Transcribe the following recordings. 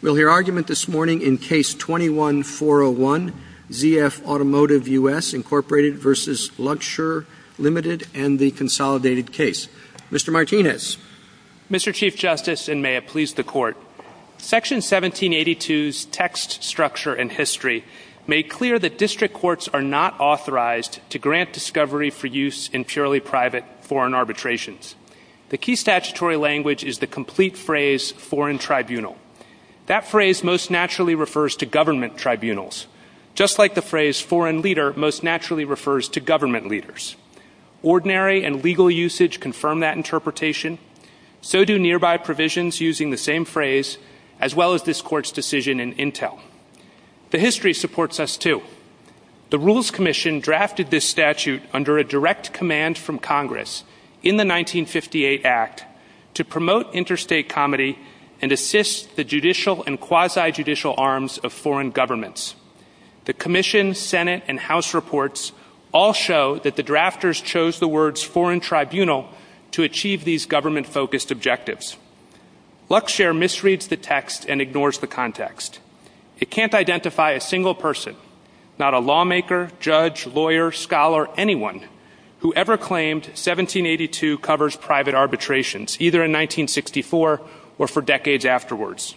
We'll hear argument this morning in Case 21-401, ZF Automotive US, Inc. v. Luxshare, Ltd. and the consolidated case. Mr. Martinez. Mr. Chief Justice, and may it please the Court, Section 1782's text, structure, and history make clear that district courts are not authorized to grant discovery for use in purely private foreign arbitrations. The key statutory language is the complete phrase, foreign tribunal. That phrase most naturally refers to government tribunals, just like the phrase foreign leader most naturally refers to government leaders. Ordinary and legal usage confirm that interpretation. So do nearby provisions using the same phrase, as well as this Court's decision in Intel. The history supports us, too. The Rules Commission drafted this statute under a direct command from Congress in the 1958 Act to promote interstate comedy and assist the judicial and quasi-judicial arms of foreign governments. The Commission, Senate, and House reports all show that the drafters chose the words foreign tribunal to achieve these government-focused objectives. Luxshare misreads the text and ignores the context. It can't identify a single person, not a lawmaker, judge, lawyer, scholar, anyone, who ever claimed 1782 covers private arbitrations, either in 1964 or for decades afterwards.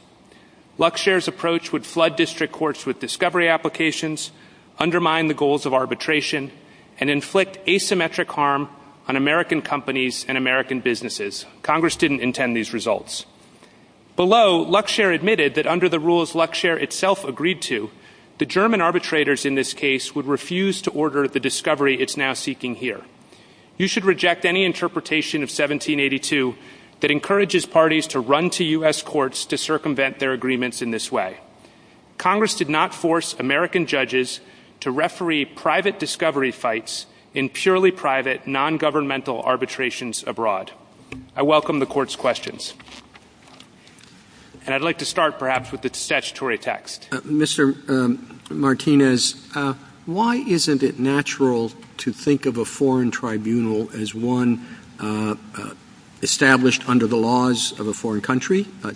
Luxshare's approach would flood district courts with discovery applications, undermine the goals of arbitration, and inflict asymmetric harm on American companies and American businesses. Congress didn't intend these results. Below, Luxshare admitted that under the rules Luxshare itself agreed to, the German arbitrators in this case would refuse to order the discovery it's now seeking here. You should reject any interpretation of 1782 that encourages parties to run to U.S. courts to circumvent their agreements in this way. Congress did not force American judges to referee private discovery fights in purely private, non-governmental arbitrations abroad. I welcome the court's questions. And I'd like to start, perhaps, with the statutory text. Mr. Martinez, why isn't it natural to think of a foreign tribunal as one established under the laws of a foreign country? A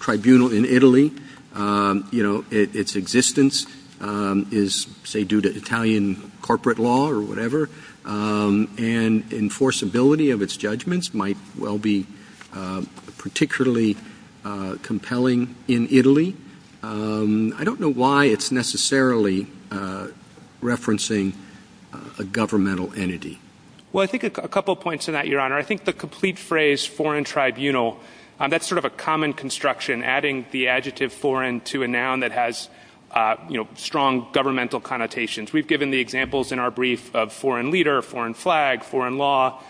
tribunal in Italy, you know, its existence is, say, due to Italian corporate law or whatever, and enforceability of its judgments might well be particularly compelling in Italy. I don't know why it's necessarily referencing a governmental entity. Well, I think a couple of points on that, Your Honor. I think the complete phrase, foreign tribunal, that's sort of a common construction, adding the adjective foreign to a noun that has, you know, strong governmental connotations. We've given the examples in our brief of foreign leader, foreign flag, foreign law,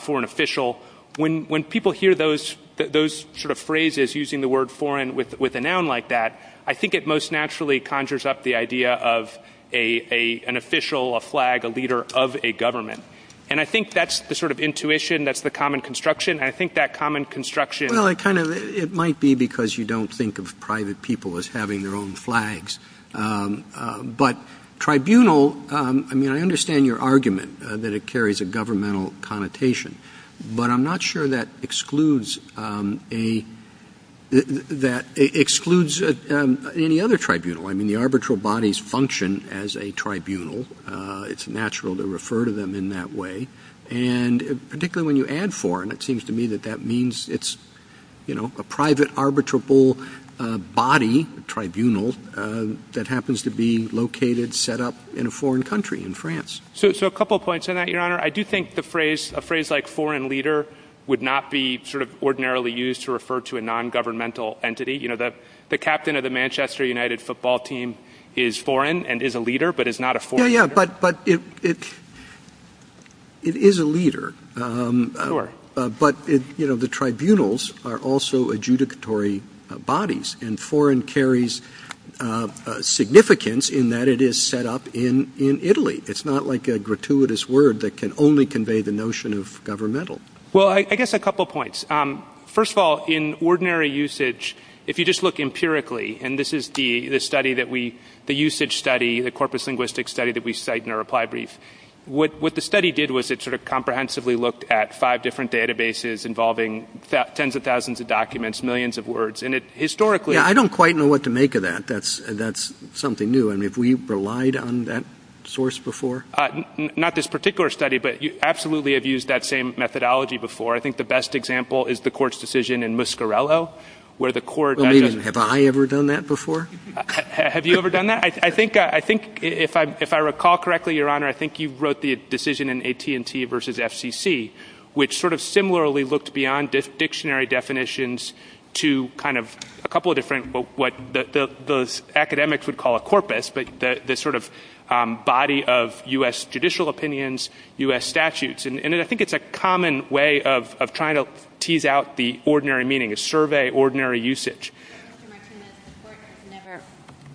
foreign official. When people hear those sort of phrases using the word foreign with a noun like that, I think it most naturally conjures up the idea of an official, a flag, a leader of a government. And I think that's the sort of intuition, that's the common construction, and I think that common construction... Well, it might be because you don't think of private people as having their own flags. But tribunal, I mean, I understand your argument that it carries a governmental connotation, but I'm not sure that excludes any other tribunal. I mean, the arbitral bodies function as a tribunal. It's natural to refer to them in that way. And particularly when you add foreign, it seems to me that that means it's, you know, a private arbitrable body, tribunal, that happens to be located, set up in a foreign country in France. So a couple of points on that, Your Honor. I do think a phrase like foreign leader would not be sort of ordinarily used to refer to a non-governmental entity. You know, the captain of the Manchester United football team is foreign and is a leader, but is not a foreign leader. But, you know, the tribunals are also adjudicatory bodies, and foreign carries significance in that it is set up in Italy. It's not like a gratuitous word that can only convey the notion of governmental. Well, I guess a couple of points. First of all, in ordinary usage, if you just look empirically, and this is the study that we, the usage study, the corpus linguistic study that we cite in our reply brief. What the study did was it sort of comprehensively looked at five different databases involving tens of thousands of documents, millions of words, and it historically... Yeah, I don't quite know what to make of that. That's something new. I mean, have we relied on that source before? Not this particular study, but you absolutely have used that same methodology before. I think the best example is the court's decision in Muscarello, where the court... Have I ever done that before? Have you ever done that? I think, if I recall correctly, Your Honor, I think you wrote the decision in AT&T versus FCC, which sort of similarly looked beyond dictionary definitions to kind of a couple of different what the academics would call a corpus, but the sort of body of U.S. judicial opinions, U.S. statutes. And I think it's a common way of trying to tease out the ordinary meaning, a survey ordinary usage.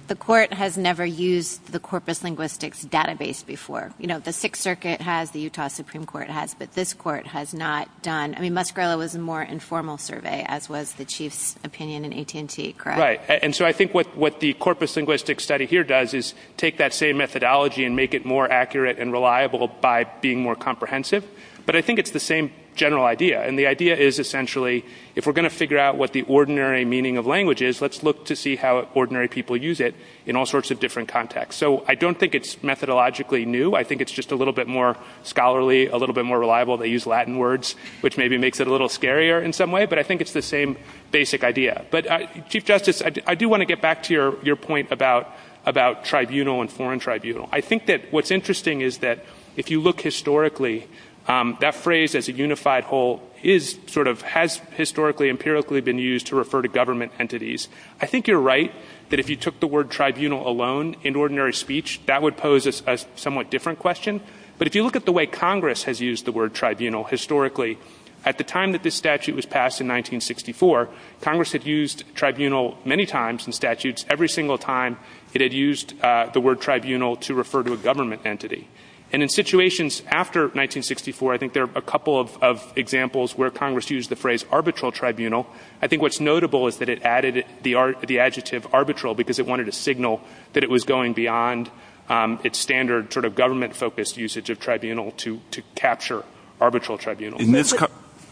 The court has never used the corpus linguistics database before. You know, the Sixth Circuit has, the Utah Supreme Court has, but this court has not done. I mean, Muscarello was a more informal survey, as was the chief's opinion in AT&T, correct? Right, and so I think what the corpus linguistics study here does is take that same methodology and make it more accurate and reliable by being more comprehensive, but I think it's the same general idea, and the idea is essentially if we're going to figure out what the ordinary meaning of language is, let's look to see how ordinary people use it in all sorts of different contexts. So I don't think it's methodologically new. I think it's just a little bit more scholarly, a little bit more reliable. They use Latin words, which maybe makes it a little scarier in some way, but I think it's the same basic idea. But Chief Justice, I do want to get back to your point about tribunal and foreign tribunal. I think that what's interesting is that if you look historically, that phrase as a unified whole is sort of has historically empirically been used to refer to government entities. I think you're right that if you took the word tribunal alone in ordinary speech, that would pose a somewhat different question, but if you look at the way Congress has used the word tribunal historically, at the time that this statute was passed in 1964, Congress had used tribunal many times in statutes. Every single time it had used the word tribunal to refer to a government entity, and in situations after 1964, I think there are a couple of examples where Congress used the phrase arbitral tribunal. I think what's notable is that it added the adjective arbitral because it wanted to signal that it was going beyond its standard sort of government-focused usage of tribunal to capture arbitral tribunal.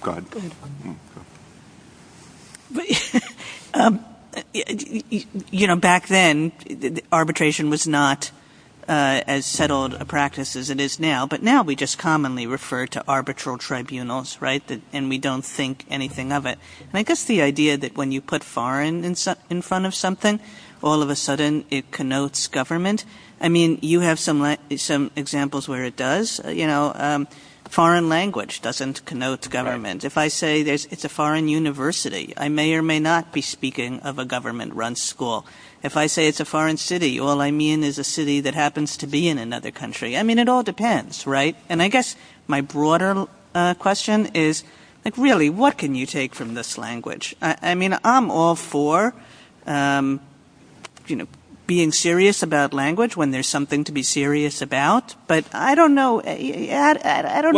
Go ahead. Back then, arbitration was not as settled a practice as it is now, but now we just commonly refer to arbitral tribunals, right? And we don't think anything of it. I guess the idea that when you put foreign in front of something, all of a sudden it connotes government. I mean, you have some examples where it does. Foreign language doesn't connote government. If I say it's a foreign university, I may or may not be speaking of a government-run school. If I say it's a foreign city, all I mean is a city that happens to be in another country. I mean, it all depends, right? And I guess my broader question is, really, what can you take from this language? I mean, I'm all for being serious about language when there's something to be serious about, but I don't know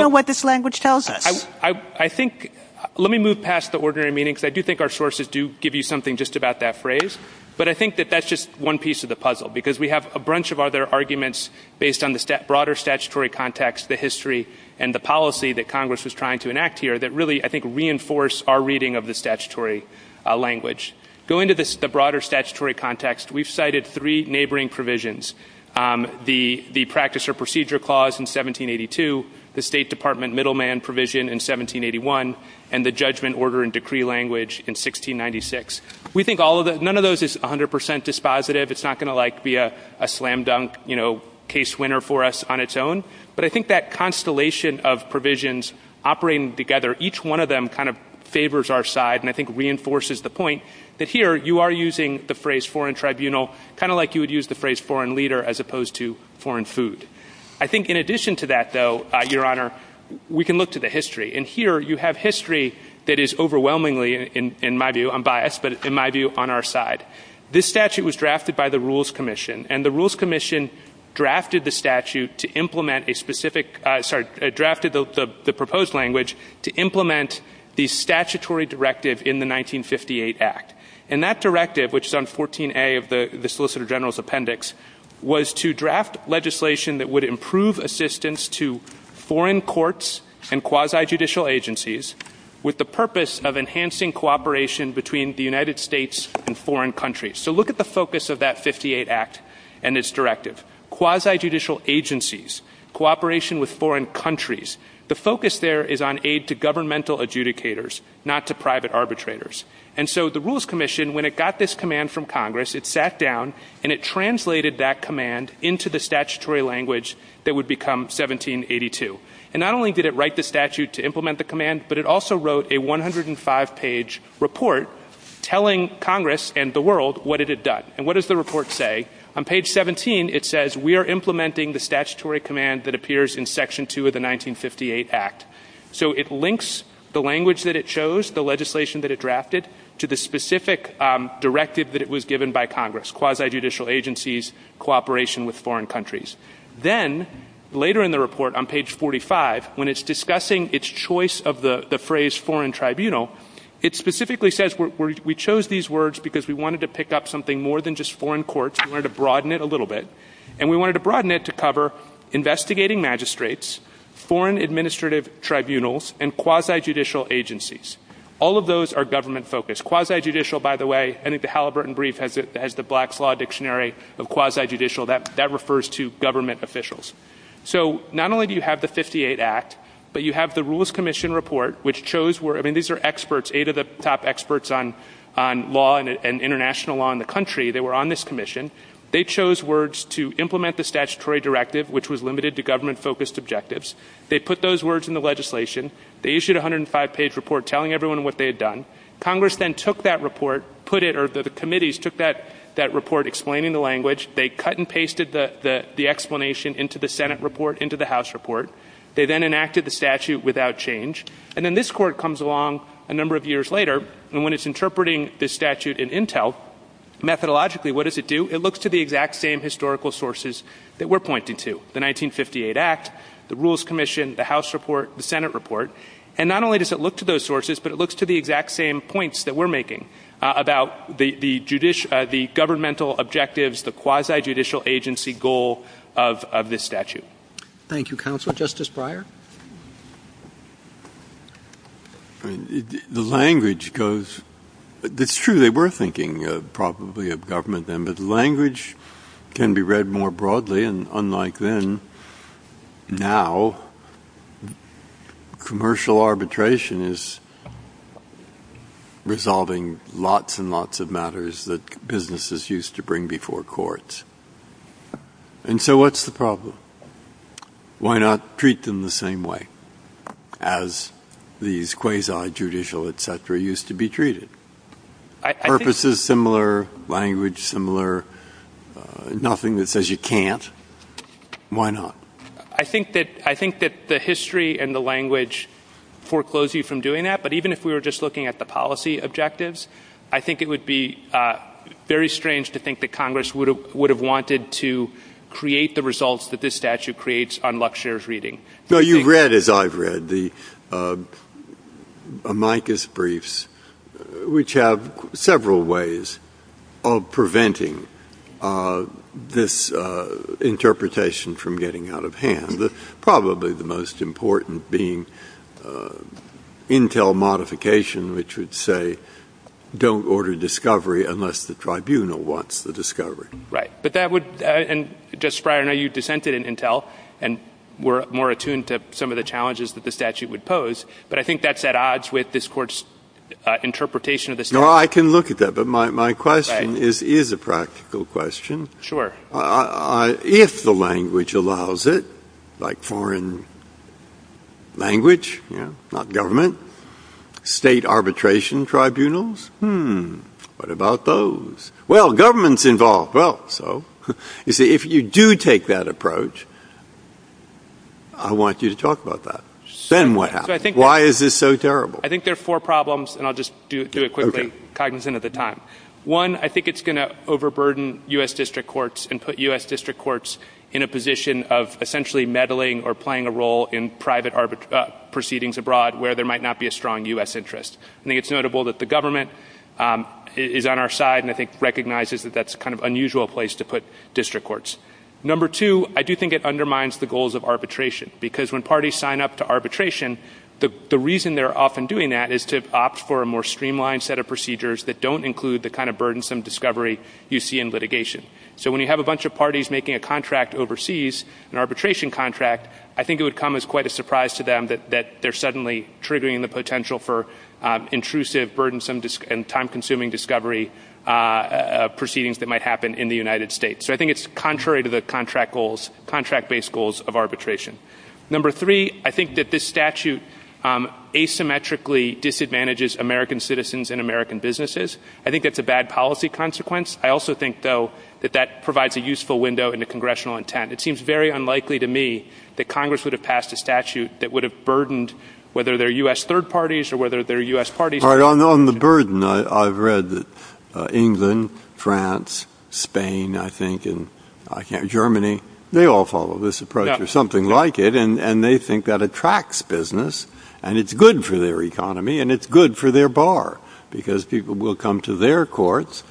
what this language tells us. I think, let me move past the ordinary meaning, because I do think our sources do give you something just about that phrase, but I think that that's just one piece of the puzzle, because we have a bunch of other arguments based on the broader statutory context, the history, and the policy that Congress was trying to enact here that really, I think, reinforce our reading of the statutory language. Going to the broader statutory context, we've cited three neighboring provisions. The Practice or Procedure Clause in 1782, the State Department Middleman Provision in 1781, and the Judgment, Order, and Decree Language in 1696. We think none of those is 100% dispositive. It's not going to be a slam-dunk case winner for us on its own, but I think that constellation of provisions operating together, each one of them kind of favors our side and I think reinforces the point that here you are using the phrase foreign tribunal kind of like you would use the phrase foreign leader as opposed to foreign food. I think in addition to that, though, Your Honor, we can look to the history, and here you have history that is overwhelmingly, in my view, unbiased, but in my view, on our side. This statute was drafted by the Rules Commission, and the Rules Commission drafted the statute to implement a specific... Sorry, drafted the proposed language to implement the statutory directive in the 1958 Act. And that directive, which is on 14A of the Solicitor General's appendix, was to draft legislation that would improve assistance to foreign courts and quasi-judicial agencies with the purpose of enhancing cooperation between the United States and foreign countries. So look at the focus of that 58 Act and its directive. Quasi-judicial agencies, cooperation with foreign countries. The focus there is on aid to governmental adjudicators, not to private arbitrators. And so the Rules Commission, when it got this command from Congress, it sat down and it translated that command into the statutory language that would become 1782. And not only did it write the statute to implement the command, but it also wrote a 105-page report telling Congress and the world what it had done. And what does the report say? On page 17, it says, we are implementing the statutory command that appears in section 2 of the 1958 Act. So it links the language that it chose, the legislation that it drafted, to the specific directive that it was given by Congress. Quasi-judicial agencies, cooperation with foreign countries. Then, later in the report, on page 45, when it's discussing its choice of the phrase foreign tribunal, it specifically says we chose these words because we wanted to pick up something more than just foreign courts. We wanted to broaden it a little bit. And we wanted to broaden it to cover investigating magistrates, foreign administrative tribunals, and quasi-judicial agencies. All of those are government-focused. Quasi-judicial, by the way, I think the Halliburton Brief has the Black's Law Dictionary of quasi-judicial. That refers to government officials. So not only do you have the 1958 Act, but you have the Rules Commission Report, which chose words... I mean, these are experts, eight of the top experts on law and international law in the country. They were on this commission. They chose words to implement the statutory directive, which was limited to government-focused objectives. They put those words in the legislation. They issued a 105-page report telling everyone what they had done. Congress then took that report, put it... Or the committees took that report, explaining the language. They cut and pasted the explanation into the Senate report, into the House report. They then enacted the statute without change. And then this court comes along a number of years later, and when it's interpreting this statute in intel, methodologically, what does it do? It looks to the exact same historical sources that we're pointing to. The 1958 Act, the Rules Commission, the House report, the Senate report. And not only does it look to those sources, but it looks to the exact same points that we're making about the governmental objectives, the quasi-judicial agency goal of this statute. Thank you, Counsel. Justice Breyer? The language goes... It's true, they were thinking probably of government, but the language can be read more broadly, and unlike then, now, commercial arbitration is resolving lots and lots of matters that businesses used to bring before courts. And so what's the problem? Why not treat them the same way as these quasi-judicial etc. used to be treated? Purposes similar, language similar, nothing that says you can't. Why not? I think that the history and the language foreclose you from doing that, but even if we were just looking at the policy objectives, I think it would be very strange to think that Congress would have wanted to create the results that this statute creates on luxurious reading. No, you've read, as I've read, the amicus briefs, which have several ways of preventing this interpretation from getting out of hand. Probably the most important being intel modification, which would say don't order discovery unless the tribunal wants the discovery. Right, but that would... Justice Breyer, I know you dissented in intel and were more attuned to some of the challenges that the statute would pose, but I think that's at odds with this court's interpretation of the statute. No, I can look at that, but my question is a practical question. Sure. If the language allows it, like foreign language, not government, state arbitration tribunals, hmm, what about those? Well, government's involved. Well, so, you see, if you do take that approach, I want you to talk about that. Send what happens. Why is this so terrible? I think there are four problems, and I'll just do it quickly, cognizant of the time. One, I think it's going to overburden U.S. district courts and put U.S. district courts in a position of essentially meddling or playing a role in private proceedings abroad where there might not be a strong U.S. interest. I think it's notable that the government is on our side and I think recognizes that that's a kind of unusual place to put district courts. Number two, I do think it undermines the goals of arbitration because when parties sign up to arbitration, the reason they're often doing that is to opt for a more streamlined set of procedures that don't include the kind of burdensome discovery you see in litigation. So when you have a bunch of parties making a contract overseas, an arbitration contract, I think it would come as quite a surprise to them that they're suddenly triggering the potential for intrusive, burdensome, and time-consuming discovery proceedings that might happen in the United States. So I think it's contrary to the contract goals, contract-based goals of arbitration. Number three, I think that this statute asymmetrically disadvantages American citizens and American businesses. I think it's a bad policy consequence. I also think, though, that that provides a useful window into congressional intent. It seems very unlikely to me that Congress would have passed a statute that would have burdened whether they're U.S. third parties or whether they're U.S. parties. All right, on the burden, I've read that England, France, Spain, I think, and Germany, they all follow this approach or something like it, and they think that attracts business and it's good for their economy and it's good for their bar because people will come to their courts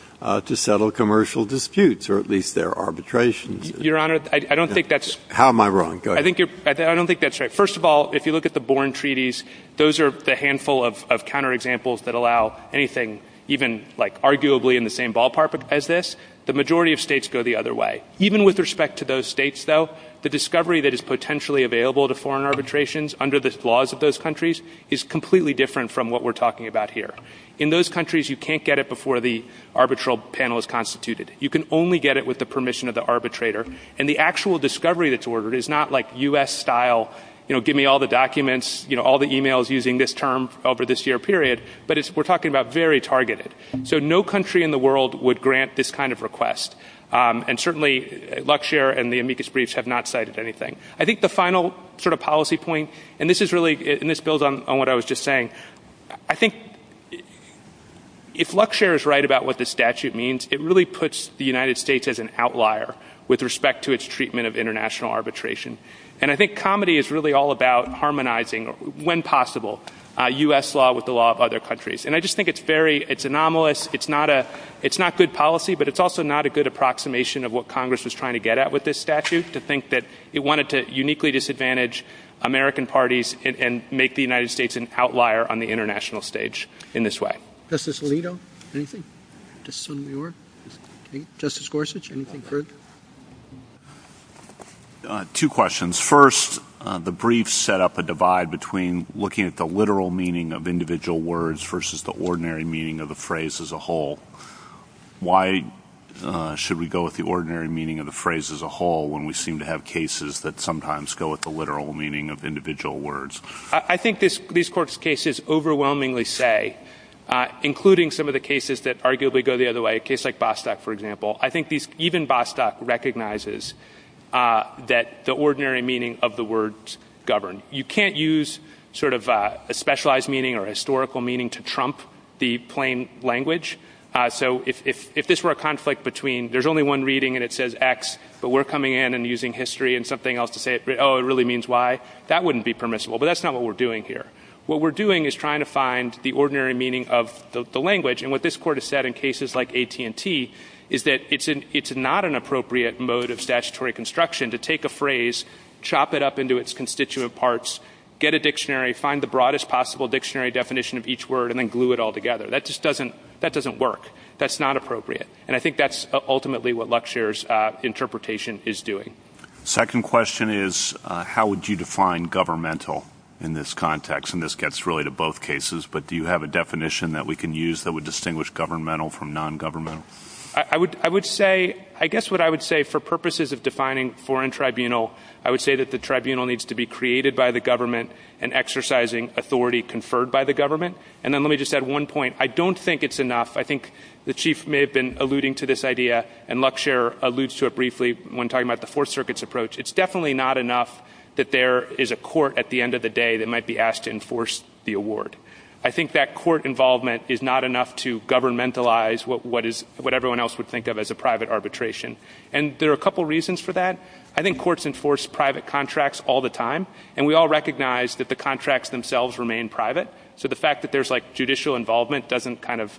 to settle commercial disputes or at least their arbitrations. Your Honor, I don't think that's... How am I wrong? Go ahead. I don't think that's right. First of all, if you look at the Born Treaties, those are the handful of counterexamples that allow anything even, like, arguably in the same ballpark as this. The majority of states go the other way. Even with respect to those states, though, the discovery that is potentially available to foreign arbitrations under the laws of those countries is completely different from what we're talking about here. In those countries, you can't get it before the arbitral panel is constituted. You can only get it with the permission of the arbitrator, and the actual discovery that's ordered is not, like, U.S. style, you know, give me all the documents, you know, all the e-mails using this term over this year period, but we're talking about very targeted. So no country in the world would grant this kind of request. And certainly, Luxshare and the amicus breach have not cited anything. I think the final sort of policy point, and this is really... And this builds on what I was just saying. I think... If Luxshare is right about what this statute means, it really puts the United States as an outlier with respect to its treatment of international arbitration. And I think comedy is really all about harmonizing, when possible, U.S. law with the law of other countries. And I just think it's very... It's anomalous. It's not a... It's not good policy, but it's also not a good approximation of what Congress was trying to get at with this statute, to think that it wanted to uniquely disadvantage American parties and make the United States an outlier on the international stage in this way. Justice Alito? Anything? Justice Sotomayor? Justice Gorsuch? Anything further? Two questions. First, the brief set up a divide between looking at the literal meaning of individual words versus the ordinary meaning of a phrase as a whole. Why should we go with the ordinary meaning of the phrase as a whole when we seem to have cases that sometimes go with the literal meaning of individual words? I think these court cases overwhelmingly say, including some of the cases that arguably go the other way, a case like Bostock, for example, I think even Bostock recognizes that the ordinary meaning of the words govern. You can't use a specialized meaning or historical meaning to trump the plain language. If this were a conflict between there's only one reading and it says X, but we're coming in and using history and something else to say, oh, it really means Y, that wouldn't be permissible, but that's not what we're doing here. What we're doing is trying to find the ordinary meaning of the language, and what this court has said in cases like AT&T is that it's not an appropriate mode of statutory construction to take a phrase, chop it up into its constituent parts, get a dictionary, find the broadest possible dictionary definition of each word, and then glue it all together. That just doesn't work. That's not appropriate, and I think that's ultimately what Luxaire's interpretation is doing. Second question is, how would you define governmental in this context? And this gets really to both cases, but do you have a definition that we can use that would distinguish governmental from non-governmental? I would say, I guess what I would say for purposes of defining foreign tribunal I would say that the tribunal needs to be created by the government and exercising authority conferred by the government, and then let me just add one point. I don't think it's enough. I think the chief may have been alluding to this idea, and Luxaire alludes to it briefly when talking about the Fourth Circuit's approach. It's definitely not enough that there is a court at the end of the day that might be asked to enforce the award. I think that court involvement is not enough to governmentalize what everyone else would think of as a private arbitration, and there are a couple reasons for that. I think courts enforce private contracts all the time, and we all recognize that the contracts themselves remain private, so the fact that there's like judicial involvement doesn't kind of,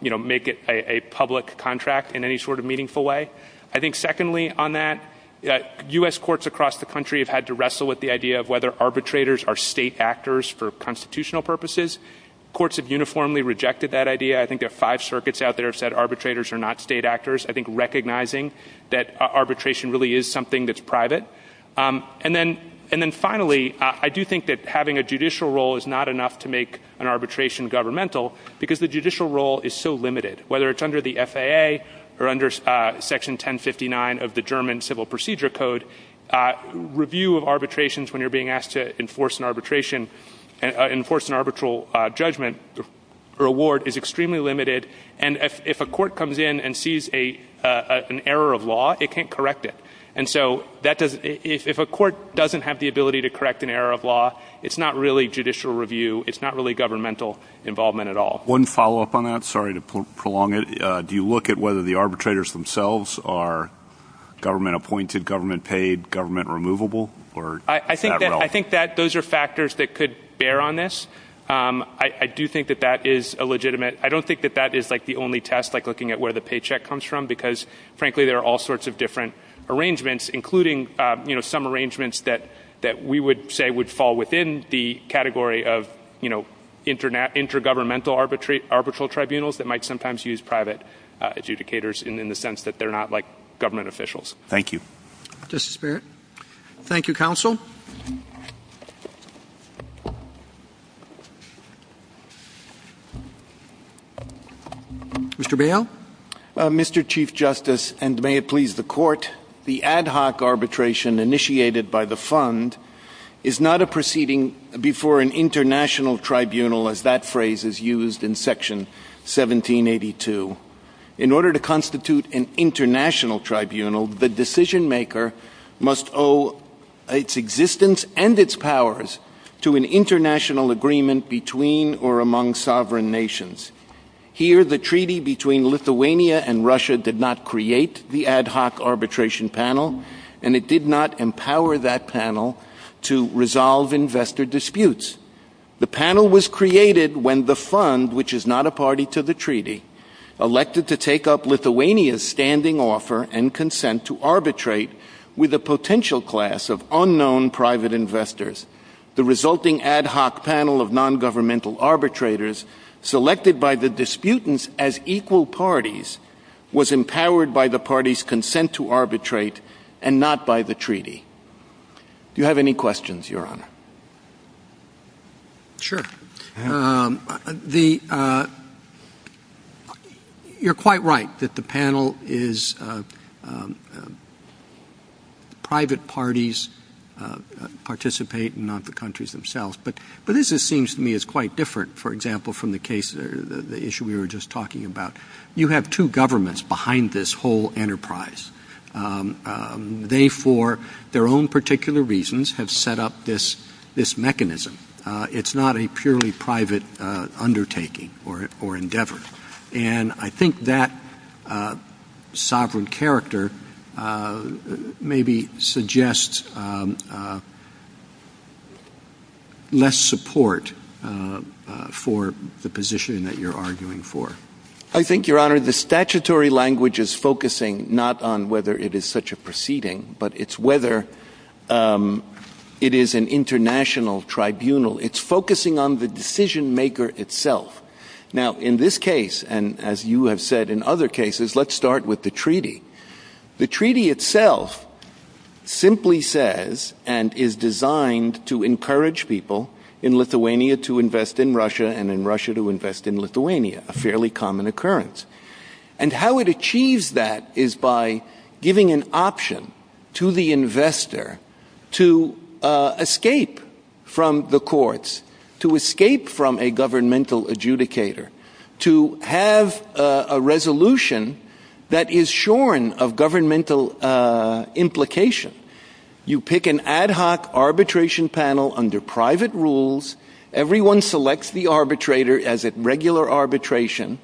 you know, make it a public contract in any sort of meaningful way. I think secondly, on that, U.S. courts across the country have had to wrestle with the idea of whether arbitrators are state actors for constitutional purposes. Courts have uniformly rejected that idea. I think there are five circuits out there that have said arbitrators are not state actors. I think recognizing that arbitration really is something that's private. And then finally, I do think that having a judicial role is not enough to make an arbitration governmental, because the judicial role is so limited. Whether it's under the FAA or under Section 1059 of the German Civil Procedure Code, review of arbitrations when you're being asked to enforce an arbitration, enforce an arbitral judgment or award is extremely limited, and if a court comes in and sees an error of law, it can't correct it. And so, if a court doesn't have the ability to correct an error of law, it's not really judicial review, it's not really governmental involvement at all. One follow-up on that, sorry to prolong it. Do you look at whether the arbitrators themselves are government-appointed, government-paid, government-removable, or not at all? I think that those are factors that could bear on this. I do think that that is a legitimate... I don't think that that is the only test, like looking at where the paycheck comes from, because, frankly, there are all sorts of different arrangements, including, you know, some arrangements that we would say would fall within the category of, you know, intergovernmental arbitral tribunals that might sometimes use private adjudicators in the sense that they're not like government officials. Thank you. Justice Barrett. Thank you, Counsel. Mr. Bail? Mr. Chief Justice, and may it please the Court, the ad hoc arbitration initiated by the Fund is not a proceeding before an international tribunal, as that phrase is used in Section 1782. In order to constitute an international tribunal, the decision-maker must owe its existence and its powers to an international agreement between or among sovereign nations. Here, the treaty between Lithuania and Russia did not create the ad hoc arbitration panel, and it did not empower that panel to resolve investor disputes. The panel was created when the Fund, which is not a party to the treaty, elected to take up Lithuania's standing offer and consent to arbitrate with a potential class of unknown private investors. The resulting ad hoc panel of nongovernmental arbitrators, selected by the disputants as equal parties, was empowered by the parties' consent to arbitrate and not by the treaty. Do you have any questions, Your Honor? Sure. The... You're quite right that the panel is... private parties participate and not the countries themselves, but this seems to me as quite different, for example, from the case, the issue we were just talking about. You have two governments behind this whole enterprise. They, for their own particular reasons, have set up this mechanism. It's not a purely private undertaking or endeavor, and I think that sovereign character maybe suggests less support for the position that you're arguing for. I think, Your Honor, the statutory language is focusing not on whether it is such a proceeding, but it's whether it is an international tribunal. It's focusing on the decision maker itself. Now, in this case, and as you have said in other cases, let's start with the treaty. The treaty itself simply says and is designed to encourage people in Lithuania to invest in Russia and in Russia to invest in Lithuania, a fairly common occurrence. And how it achieves that is by giving an option to the investor to escape from the courts, to escape from a governmental adjudicator, to have a resolution that is shorn of governmental implication. You pick an ad hoc arbitration panel under private rules. Everyone selects the arbitrator as a regular arbitration.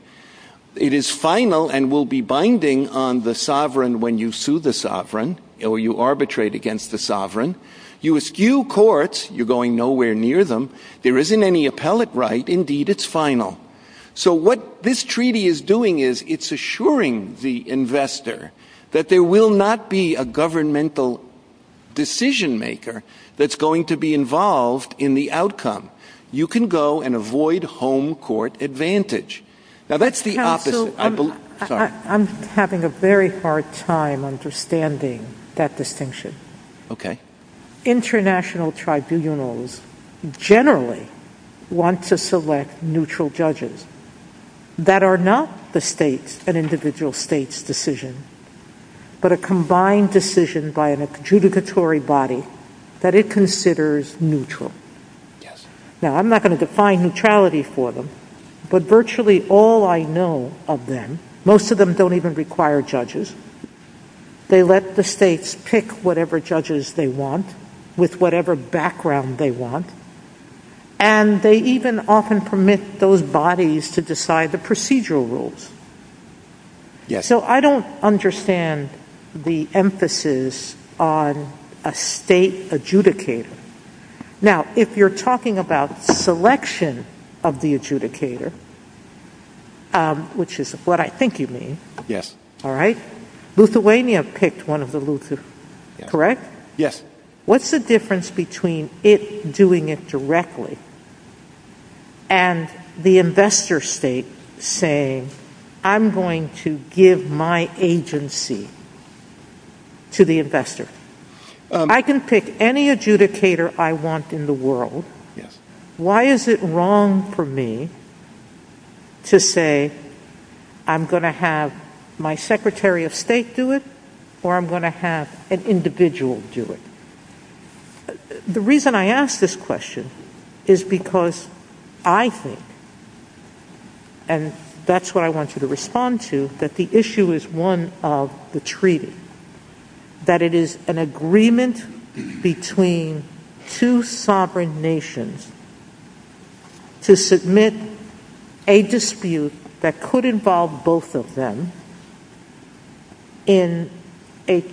It is final and will be binding on the sovereign when you sue the sovereign or you arbitrate against the sovereign. You eschew courts. You're going nowhere near them. There isn't any appellate right. Indeed, it's final. So what this treaty is doing is it's assuring the investor that there will not be a governmental decision maker that's going to be involved in the outcome. You can go and avoid home court advantage. Now that's the opposite. I'm having a very hard time understanding that distinction. International tribunals generally want to select neutral judges that are not an individual state's decision, but a combined decision by an adjudicatory body that it considers neutral. Now, I'm not going to define neutrality for them, but virtually all I know of them, most of them don't even require judges. They let the states pick whatever judges they want with whatever background they want, and they even often permit those bodies to decide the procedural rules. So I don't understand the emphasis on a state adjudicator. Now, if you're talking about selection of the adjudicator, which is what I think you mean. Yes. All right. Lithuania picked one of the Lithuanians, correct? Yes. What's the difference between it doing it directly and the investor state saying, I'm going to give my agency to the investor? I can pick any adjudicator I want in the world. Why is it wrong for me to say I'm going to have my secretary of state do it, or I'm going to have an individual do it? The reason I ask this question is because I think, and that's what I wanted to respond to, that the issue is one of the treaty, that it is an agreement between two sovereign nations to submit a dispute that could involve both of them in an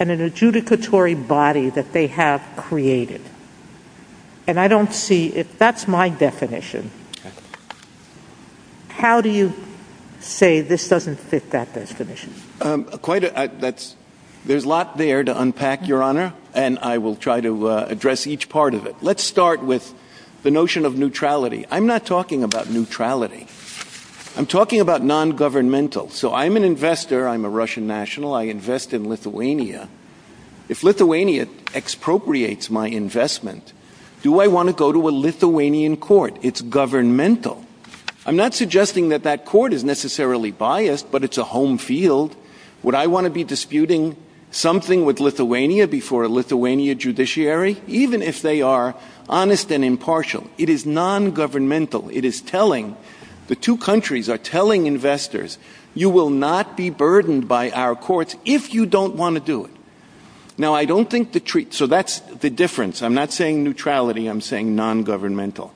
adjudicatory body that they have created. And I don't see it. That's my definition. How do you say this doesn't fit that definition? There's a lot there to unpack, Your Honor, and I will try to address each part of it. Let's start with the notion of neutrality. I'm not talking about neutrality. I'm talking about non-governmental. So I'm an investor. I'm a Russian national. I invest in Lithuania. If Lithuania expropriates my investment, do I want to go to a Lithuanian court? It's governmental. I'm not suggesting that that court is necessarily biased, but it's a home field. Would I want to be disputing something with Lithuania before a Lithuania judiciary, even if they are honest and impartial? It is non-governmental. It is telling, the two countries are telling investors, you will not be burdened by our courts if you don't want to do it. Now, I don't think the treaty, so that's the difference. I'm not saying neutrality. I'm saying non-governmental.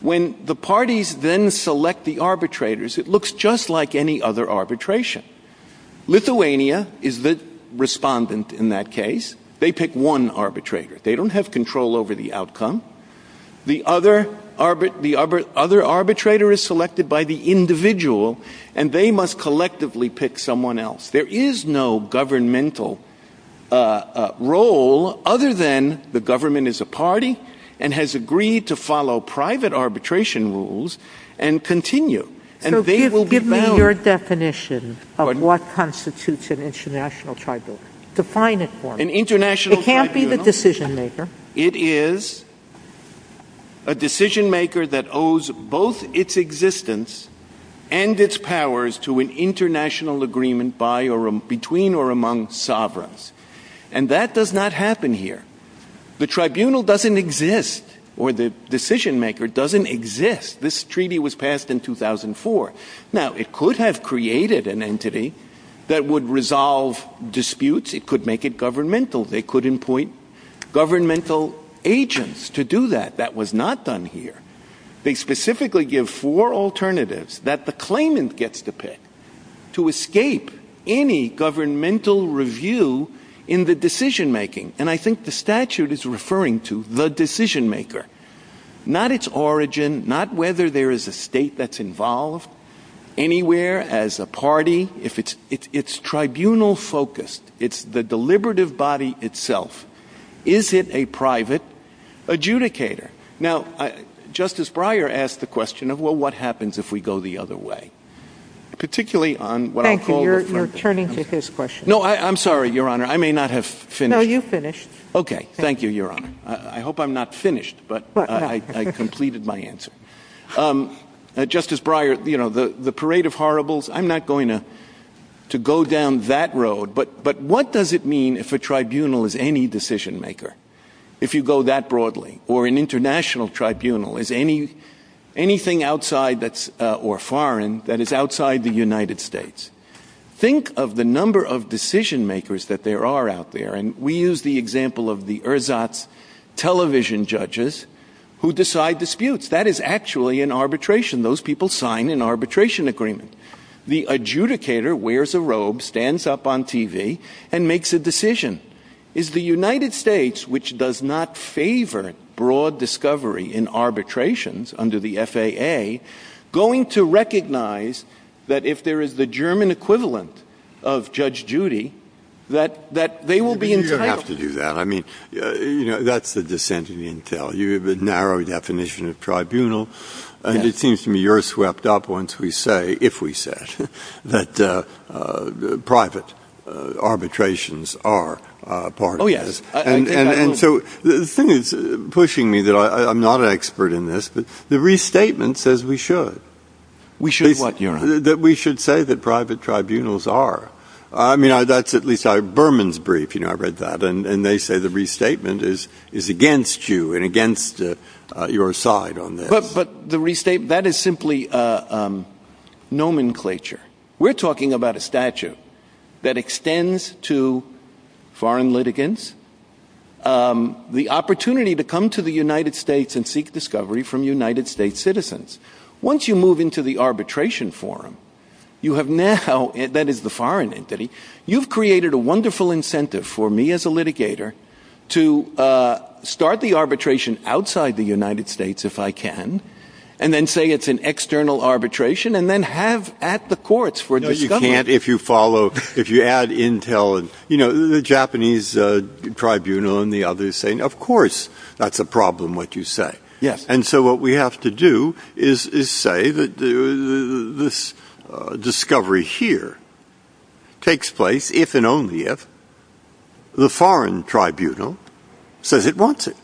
When the parties then select the arbitrators, it looks just like any other arbitration. Lithuania is the respondent in that case. They pick one arbitrator. They don't have control over the outcome. The other arbitrator is selected by the individual, and they must collectively pick someone else. There is no governmental role other than the government is a party, and has agreed to follow private arbitration rules, and continue. Give me your definition of what constitutes an international tribunal. Define it for me. It can't be the decision maker. It is a decision maker that owes both its existence and its powers to an international agreement between or among sovereigns. And that does not happen here. The tribunal doesn't exist, or the decision maker doesn't exist. This treaty was passed in 2004. Now, it could have created an entity that would resolve disputes. It could make it governmental. They could appoint governmental agents to do that. That was not done here. They specifically give four alternatives that the claimant gets to pick to escape any governmental review in the decision making. And I think the statute is referring to the decision maker. Not its origin, not whether there is a state that's involved anywhere as a party. It's tribunal focused. It's the deliberative body itself. Is it a private adjudicator? Now, Justice Breyer asked the question of, well, what happens if we go the other way? Particularly on what I'll call the... Thank you. You're turning to his question. No, I'm sorry, Your Honor. I may not have finished. No, you finished. Okay. Thank you, Your Honor. I hope I'm not finished, but I completed my answer. Justice Breyer, the parade of horribles, I'm not going to go down that road, but what does it mean if a tribunal is any decision maker? If you go that broadly or an international tribunal is anything outside or foreign that is outside the United States? Think of the number of decision makers that there are out there, and we use the example of the ersatz television judges who decide disputes. That is actually an arbitration. Those people sign an arbitration agreement. The adjudicator wears a robe, stands up on TV, and makes a decision. Is the United States, which does not favor broad discovery in arbitrations under the FAA, going to recognize that if there is the German equivalent of Judge Judy, that they will be entitled? You don't have to do that. That's the dissent of the intel. You have a narrow definition of tribunal, and it seems to me you're swept up once we say, if we say, that private arbitrations are part of this. Oh, yes. that I'm not an expert in this, but the restatement says we should. We should what, Your Honor? That we should say that private tribunals are. I mean, that's at least our Berman's brief. You know, I read that, and they say the restatement is against you and against your side on this. But the restatement, that is simply nomenclature. We're talking about a statute that extends to foreign litigants the opportunity to come to the United States and seek discovery from United States citizens. Once you move into the arbitration forum, you have now, that is the foreign entity, you've created a wonderful incentive for me as a litigator to start the arbitration outside the United States if I can, and then say it's an external arbitration, and then have at the courts for discovery. No, you can't if you follow, if you add Intel and, you know, the Japanese tribunal and the others saying, of course, that's a problem what you say. Yes. And so what we have to do is say that this discovery here takes place if and only if the foreign tribunal says it wants it.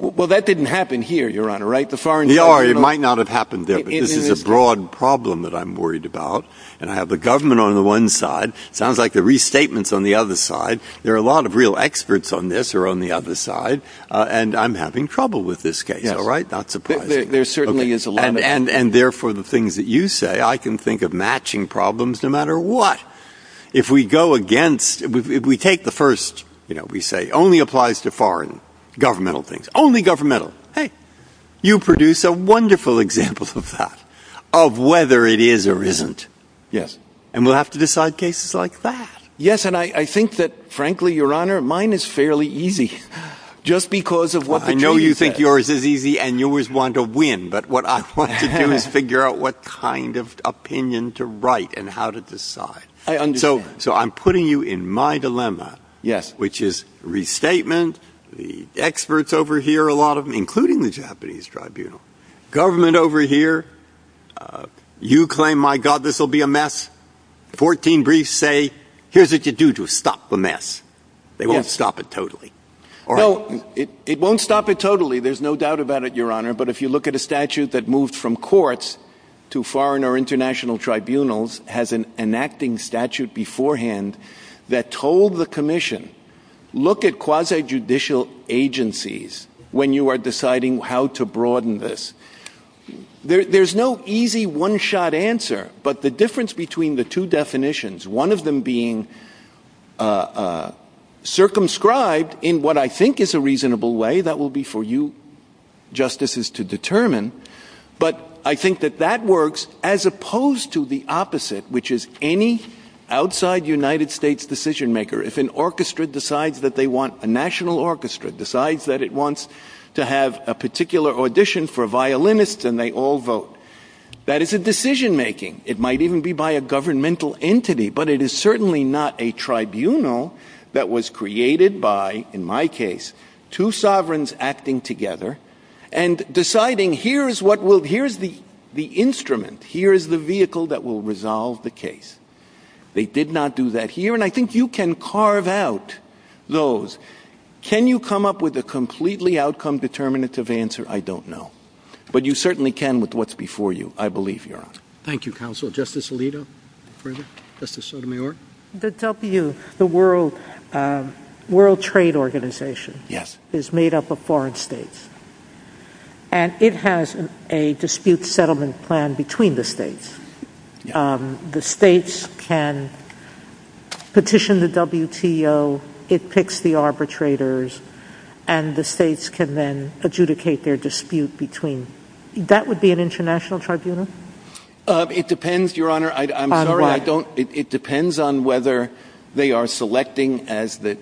Well, that didn't happen here, Your Honor, right? The foreign tribunal... It might not have happened there because it's a broad problem that I'm worried about. And I have the government on the one side. Sounds like the restatement is on the other side. There are a lot of real experts on this or on the other side. And I'm having trouble with this case. All right? There certainly is... And therefore, the things that you say, I can think of matching problems no matter what. If we go against, if we take the first, you know, we say only applies to foreign governmental things, only governmental. Hey, you produced a wonderful example of that, of whether it is or isn't. Yes. And we'll have to decide cases like that. Yes. And I think that, frankly, Your Honor, mine is fairly easy just because of what... I know you think yours is easy and yours want to win. But what I want you to do is figure out what kind of opinion to write and how to decide. I understand. So I'm putting you in my dilemma. Yes. Which is restatement, the experts over here, a lot of them, including the Japanese tribunal. Government over here, you claim, my God, this will be a mess. Fourteen briefs say, here's what you do to stop the mess. Yes. They won't stop it totally. No, it won't stop it totally. There's no doubt about it. Your Honor, but if you look at a statute that moved from courts to foreign or international tribunals, has an enacting statute beforehand that told the commission, look at quasi-judicial agencies when you are deciding how to broaden this. There's no easy one-shot answer, but the difference between the two definitions, one of them being circumscribed in what I think is a reasonable way, that will be for you justices to determine, but I think that that works as opposed to the opposite, which is any outside United States decision-maker. If an orchestra decides that they want a national orchestra, decides that it wants to have a particular audition for violinists, and they all vote, that is a decision-making. It might even be by a governmental entity, but it is certainly not a tribunal that was created by, in my case, two sovereigns acting together and deciding, here is the instrument, here is the vehicle that will resolve the case. They did not do that here, and I think you can carve out those. Can you come up with a completely outcome-determinative answer? I don't know, but you certainly can with what's before you. I believe you're on. Thank you, counsel. Justice Alito, further? Justice Sotomayor? The W, the World Trade Organization, is made up of foreign states, and it has a dispute settlement plan between the states. The states can petition the WTO, it picks the arbitrators, and the states can then adjudicate their dispute between them. That would be an international tribunal? It depends, Your Honor. I'm sorry, I don't... It depends on whether they are selecting as the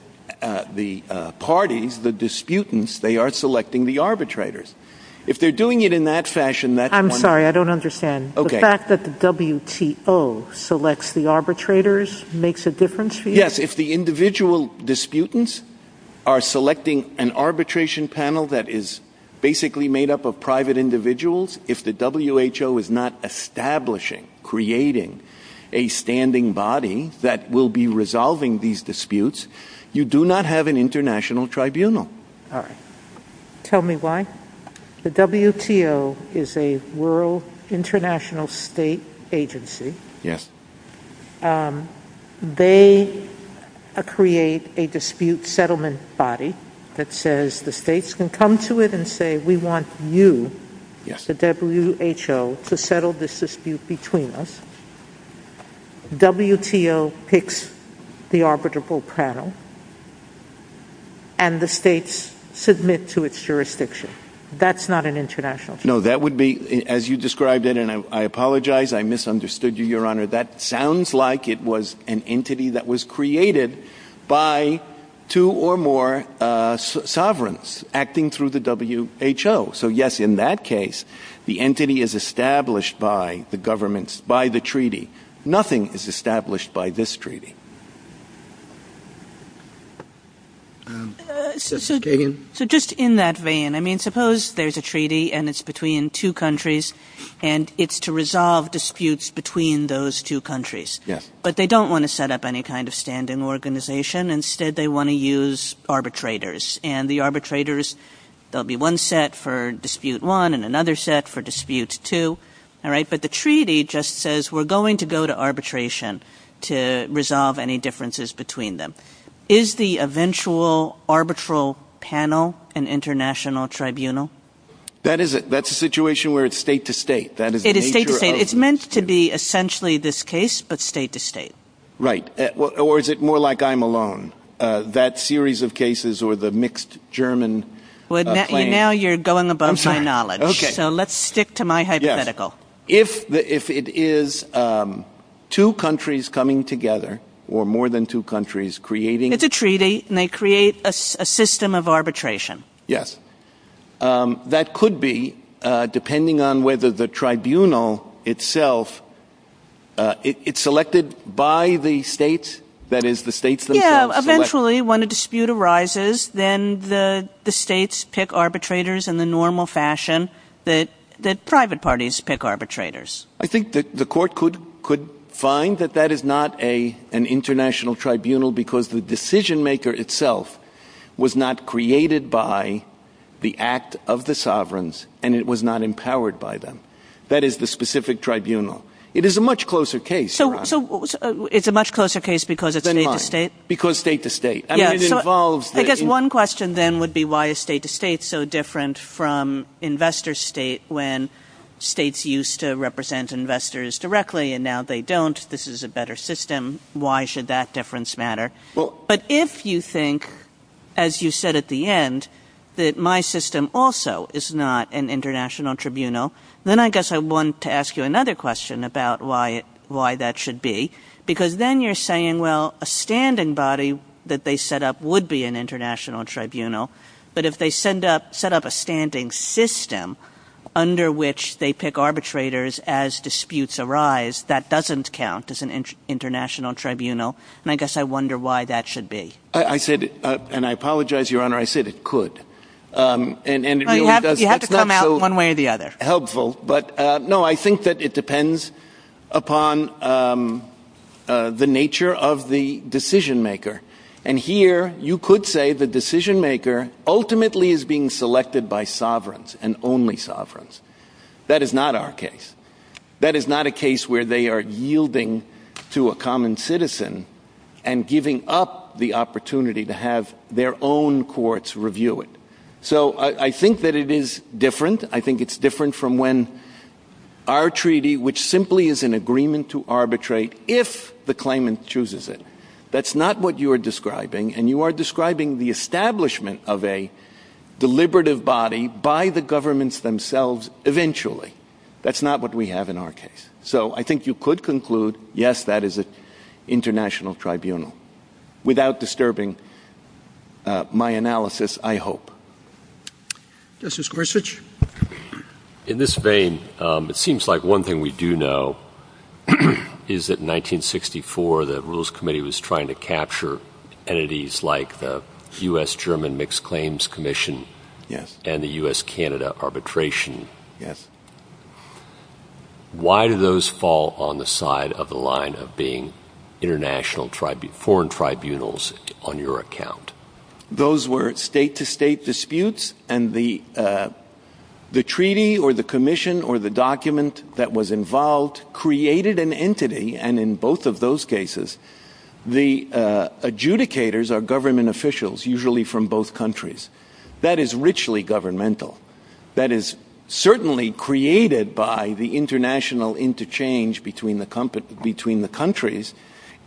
parties, the disputants, they are selecting the arbitrators. If they're doing it in that fashion... I'm sorry, I don't understand. The fact that the WTO selects the arbitrators makes a difference for you? Yes, if the individual disputants are selecting an arbitration panel that is basically made up of private individuals, if the WHO is not establishing, creating a standing body that will be resolving these disputes, you do not have an international tribunal. All right. Tell me why? The WTO is a World International State Agency. Yes. They create a dispute settlement body that says the states can come to it and say, we want you, the WHO, to settle this dispute between us. WTO picks the arbitrable panel and the states submit to its jurisdiction. That's not an international... No, that would be, as you described it, and I apologize, I misunderstood you, Your Honor, that sounds like it was an entity that was created by two or more sovereigns acting through the WHO. So, yes, in that case, the entity is established by the governments, by the treaty. Nothing is established by this treaty. So just in that vein, I mean, suppose there's a treaty and it's between two countries and it's to resolve disputes between those two countries. But they don't want to set up any kind of standing organization. Instead, they want to use arbitrators. And the arbitrators, there'll be one set for Dispute 1 and another set for Dispute 2. All right, but the treaty just says we're going to go to arbitration to resolve any differences between them. Is the eventual arbitral panel an international tribunal? That is it. That's a situation where it's state-to-state. It is state-to-state. It's meant to be essentially this case, but state-to-state. Right. Or is it more like I'm alone? That series of cases or the mixed German... Well, now you're going above my knowledge. So let's stick to my hypothetical. If it is two countries coming together or more than two countries creating... It's a treaty and they create a system of arbitration. Yes. That could be, depending on whether the tribunal itself, it's selected by the states, that is the states themselves... Yeah, eventually when a dispute arises, then the states pick arbitrators in the normal fashion that private parties pick arbitrators. I think that the court could find that that is not an international tribunal because the decision-maker itself was not created by the act of the sovereigns and it was not empowered by them. That is the specific tribunal. It is a much closer case. So it's a much closer case because it's state-to-state? Because state-to-state. I mean, it involves... I guess one question then would be why is state-to-state so different from investor-state when states used to represent investors directly and now they don't. This is a better system. Why should that difference matter? But if you think, as you said at the end, that my system also is not an international tribunal, then I guess I want to ask you another question about why that should be because then you're saying, well, a standing body that they set up would be an international tribunal. But if they set up a standing system under which they pick arbitrators as disputes arise, that doesn't count as an international tribunal. And I guess I wonder why that should be. I said, and I apologize, Your Honor, I said it could. You have to come out one way or the other. Helpful. But no, I think that it depends upon the nature of the decision-maker. And here you could say the decision-maker ultimately is being selected by sovereigns and only sovereigns. That is not our case. That is not a case where they are yielding to a common citizen and giving up the opportunity to have their own courts review it. So I think that it is different. I think it's different from when our treaty, which simply is an agreement to arbitrate if the claimant chooses it. That's not what you are describing. And you are describing the establishment of a deliberative body by the governments themselves eventually. That's not what we have in our case. So I think you could conclude, yes, that is an international tribunal. Without disturbing my analysis, I hope. Justice Gorsuch? In this vein, it seems like one thing we do know is that in 1964 the Rules Committee was trying to capture entities like the U.S.-German Mixed Claims Commission and the U.S.-Canada Arbitration. Why do those fall on the side of the line of being foreign tribunals on your account? Those were state-to-state disputes. And the treaty or the commission or the document that was involved created an entity. And in both of those cases, the adjudicators are government officials, usually from both countries. That is richly governmental. That is certainly created by the international interchange between the countries.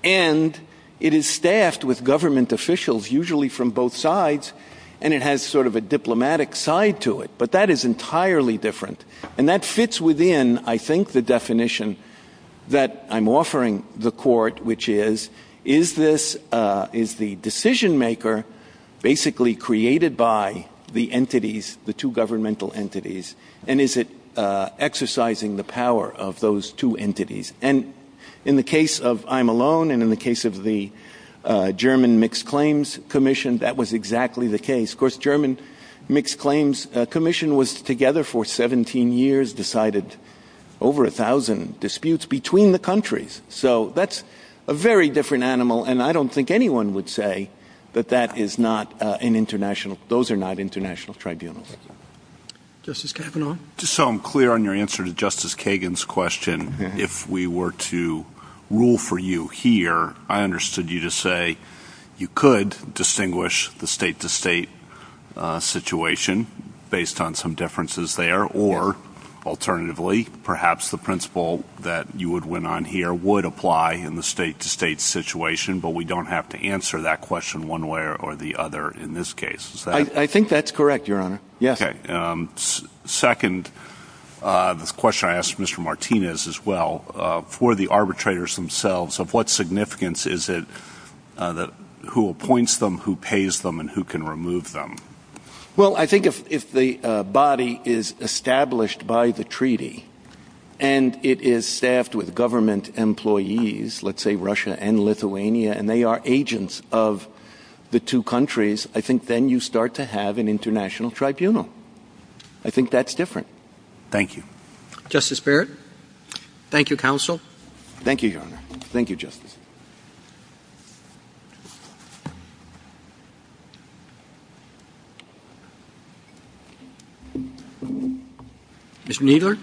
And it is staffed with government officials, usually from both sides. And it has sort of a diplomatic side to it. But that is entirely different. And that fits within, I think, the definition that I'm offering the Court, which is, is the decision-maker basically created by the two governmental entities and is it exercising the power of those two entities? And in the case of I'm Alone and in the case of the German Mixed Claims Commission, Of course, the German Mixed Claims Commission was together for 17 years, decided over 1,000 disputes between the countries. So that's a very different animal. And I don't think anyone would say that that is not an international... those are not international tribunals. Justice Kavanaugh? Just so I'm clear on your answer to Justice Kagan's question, if we were to rule for you here, I understood you to say you could distinguish the state-to-state situation based on some differences there, or, alternatively, perhaps the principle that you would win on here would apply in the state-to-state situation, but we don't have to answer that question one way or the other in this case. I think that's correct, Your Honor. Okay. Second, the question I asked Mr. Martinez as well, for the arbitrators themselves, of what significance is it who appoints them, who pays them, and who can remove them? Well, I think if the body is established by the treaty and it is staffed with government employees, let's say Russia and Lithuania, and they are agents of the two countries, I think then you start to have an international tribunal. I think that's different. Thank you. Justice Barrett? Thank you, Counsel. Thank you, Your Honor. Thank you, Justice. Ms. Kneedler?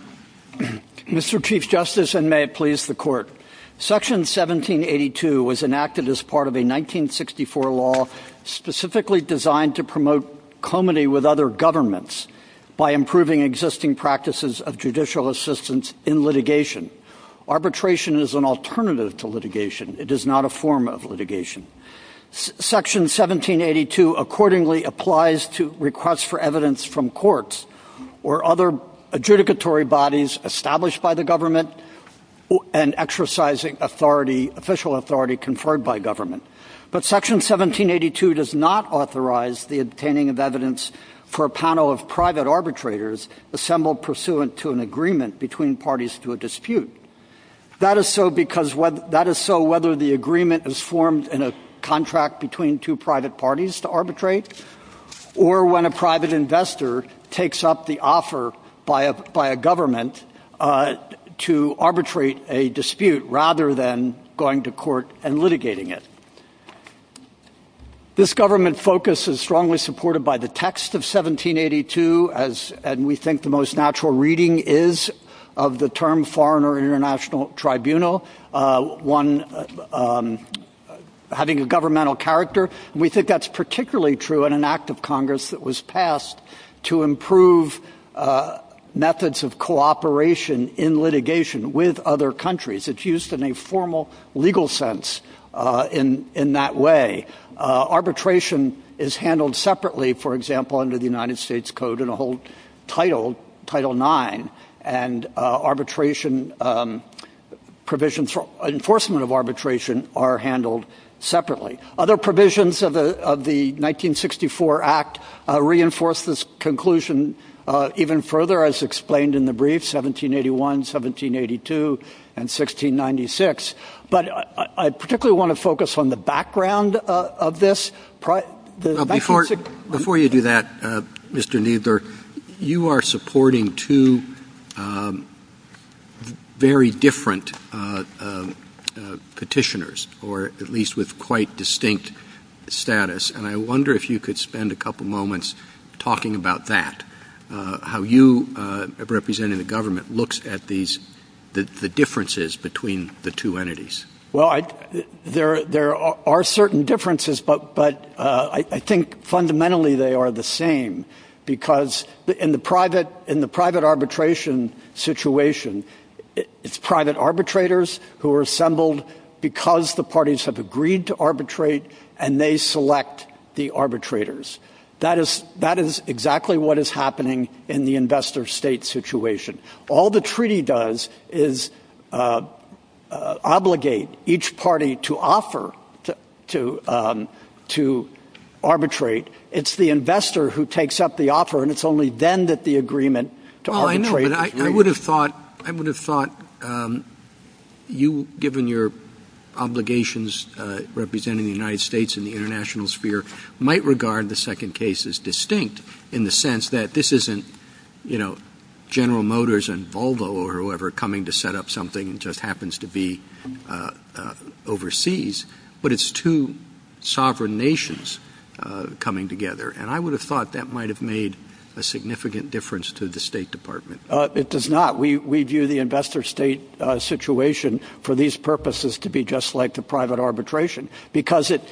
Mr. Chief Justice, and may it please the Court, Section 1782 was enacted as part of a 1964 law specifically designed to promote comity with other governments by improving existing practices of judicial assistance in litigation. Arbitration is an alternative to litigation. It is not a form of litigation. Section 1782 accordingly applies to requests for evidence from courts or other adjudicatory bodies established by the government and exercising official authority conferred by government. But Section 1782 does not authorize the obtaining of evidence for a panel of private arbitrators assembled pursuant to an agreement between parties to a dispute. in a contract between two private parties to arbitrate or when a private investor takes up the offer by a government to arbitrate a dispute rather than going to court and litigating it. This government focus is strongly supported by the text of 1782 and we think the most natural reading is of the term foreign or international tribunal, having a governmental character. And we think that's particularly true in an act of Congress that was passed to improve methods of cooperation in litigation with other countries. It's used in a formal legal sense in that way. Arbitration is handled separately, for example, under the United States Code in Title IX and enforcement of arbitration are handled separately. Other provisions of the 1964 Act reinforce this conclusion even further as explained in the brief, 1781, 1782, and 1696. But I particularly want to focus on the background of this. Before you do that, Mr. Kneedler, you are supporting two very different petitioners or at least with quite distinct status. And I wonder if you could spend a couple moments talking about that, how you representing the government looks at the differences between the two entities. Well, there are certain differences but I think fundamentally they are the same because in the private arbitration situation, it's private arbitrators who are assembled because the parties have agreed to arbitrate and they select the arbitrators. That is exactly what is happening in the investor state situation. All the treaty does is obligate each party to offer to arbitrate. It's the investor who takes up the offer and it's only then that the agreement to arbitrate is made. I would have thought you, given your obligations representing the United States in the international sphere, might regard the second case as distinct in the sense that this isn't General Motors and Volvo or whoever coming to set up something just happens to be overseas, but it's two sovereign nations coming together. And I would have thought that might have made a significant difference to the State Department. It does not. We view the investor state situation for these purposes to be just like the private arbitration because it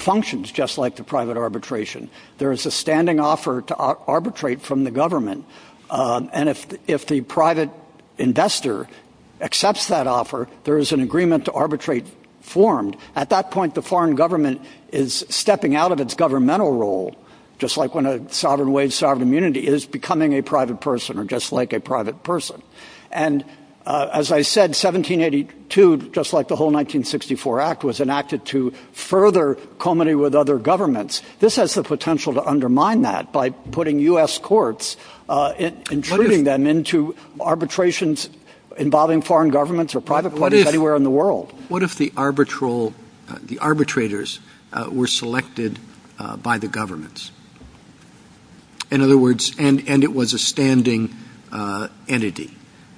functions just like the private arbitration. There is a standing offer to arbitrate from the government and if the private investor accepts that offer, there is an agreement to arbitrate formed. At that point, the foreign government is stepping out of its governmental role just like when a sovereign way of sovereign immunity is becoming a private person or just like a private person. And as I said, 1782, just like the whole 1964 Act, was enacted to further comedy with other governments. This has the potential to undermine that by putting U.S. courts, intruding them into arbitrations involving foreign governments or private parties anywhere in the world. What if the arbitrators were selected by the governments? In other words, and it was a standing entity.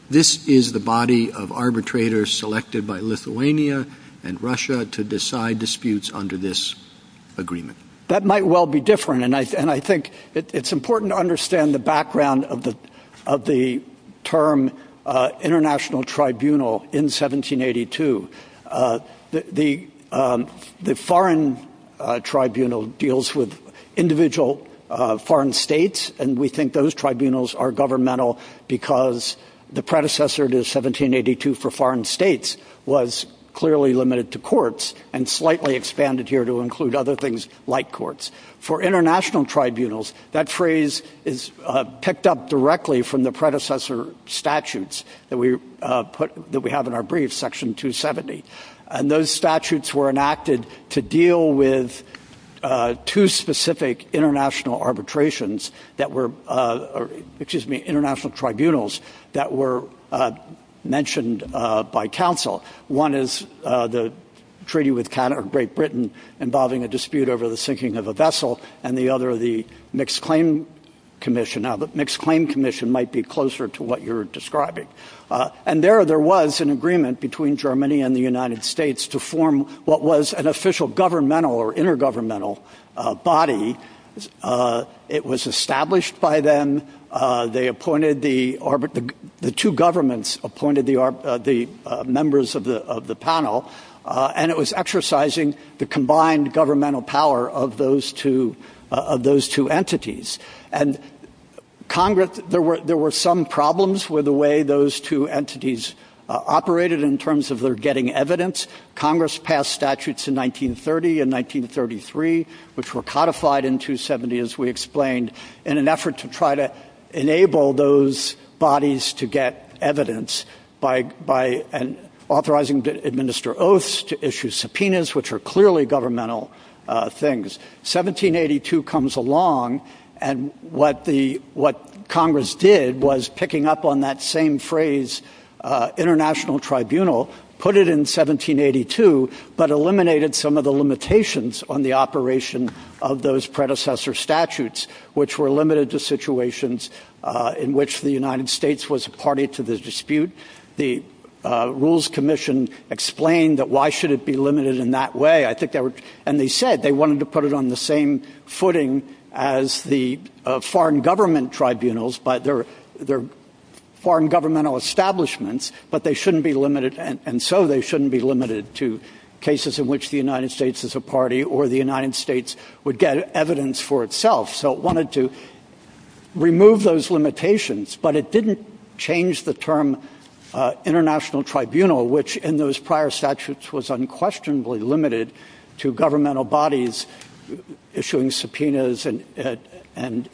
This is the body of arbitrators selected by Lithuania and Russia to decide disputes under this agreement. That might well be different. And I think it's important to understand the background of the term international tribunal in 1782. The foreign tribunal deals with individual foreign states and we think those tribunals are governmental because the predecessor to 1782 for foreign states was clearly limited to courts and slightly expanded here to include other things like courts. For international tribunals, that phrase is picked up directly from the predecessor statutes that we have in our brief, Section 270. And those statutes were enacted to deal with two specific international arbitrations that were, excuse me, international tribunals that were mentioned by counsel. One is the treaty with Great Britain involving a dispute over the sinking of a vessel and the other, the Mixed Claim Commission. Now, the Mixed Claim Commission might be closer to what you're describing. And there, there was an agreement between Germany and the United States to form what was an official governmental or intergovernmental body. It was established by them. They appointed the... The two governments appointed the members of the panel and it was exercising the combined governmental power of those two entities. And there were some problems with the way those two entities operated in terms of their getting evidence. Congress passed statutes in 1930 and 1933, which were codified in 270, as we explained, in an effort to try to enable those bodies to get evidence by authorizing them to administer oaths, to issue subpoenas, which are clearly governmental things. 1782 comes along and what Congress did was picking up on that same phrase, international tribunal, put it in 1782, but eliminated some of the limitations on the operation of those predecessor statutes, which were limited to situations in which the United States was a party to the dispute. The Rules Commission explained that why should it be limited in that way? And they said they wanted to put it on the same footing as the foreign government tribunals, but they're foreign governmental establishments, but they shouldn't be limited, and so they shouldn't be limited to cases in which the United States is a party or the United States would get evidence for itself. So it wanted to remove those limitations, but it didn't change the term international tribunal, which in those prior statutes was unquestionably limited to governmental bodies issuing subpoenas and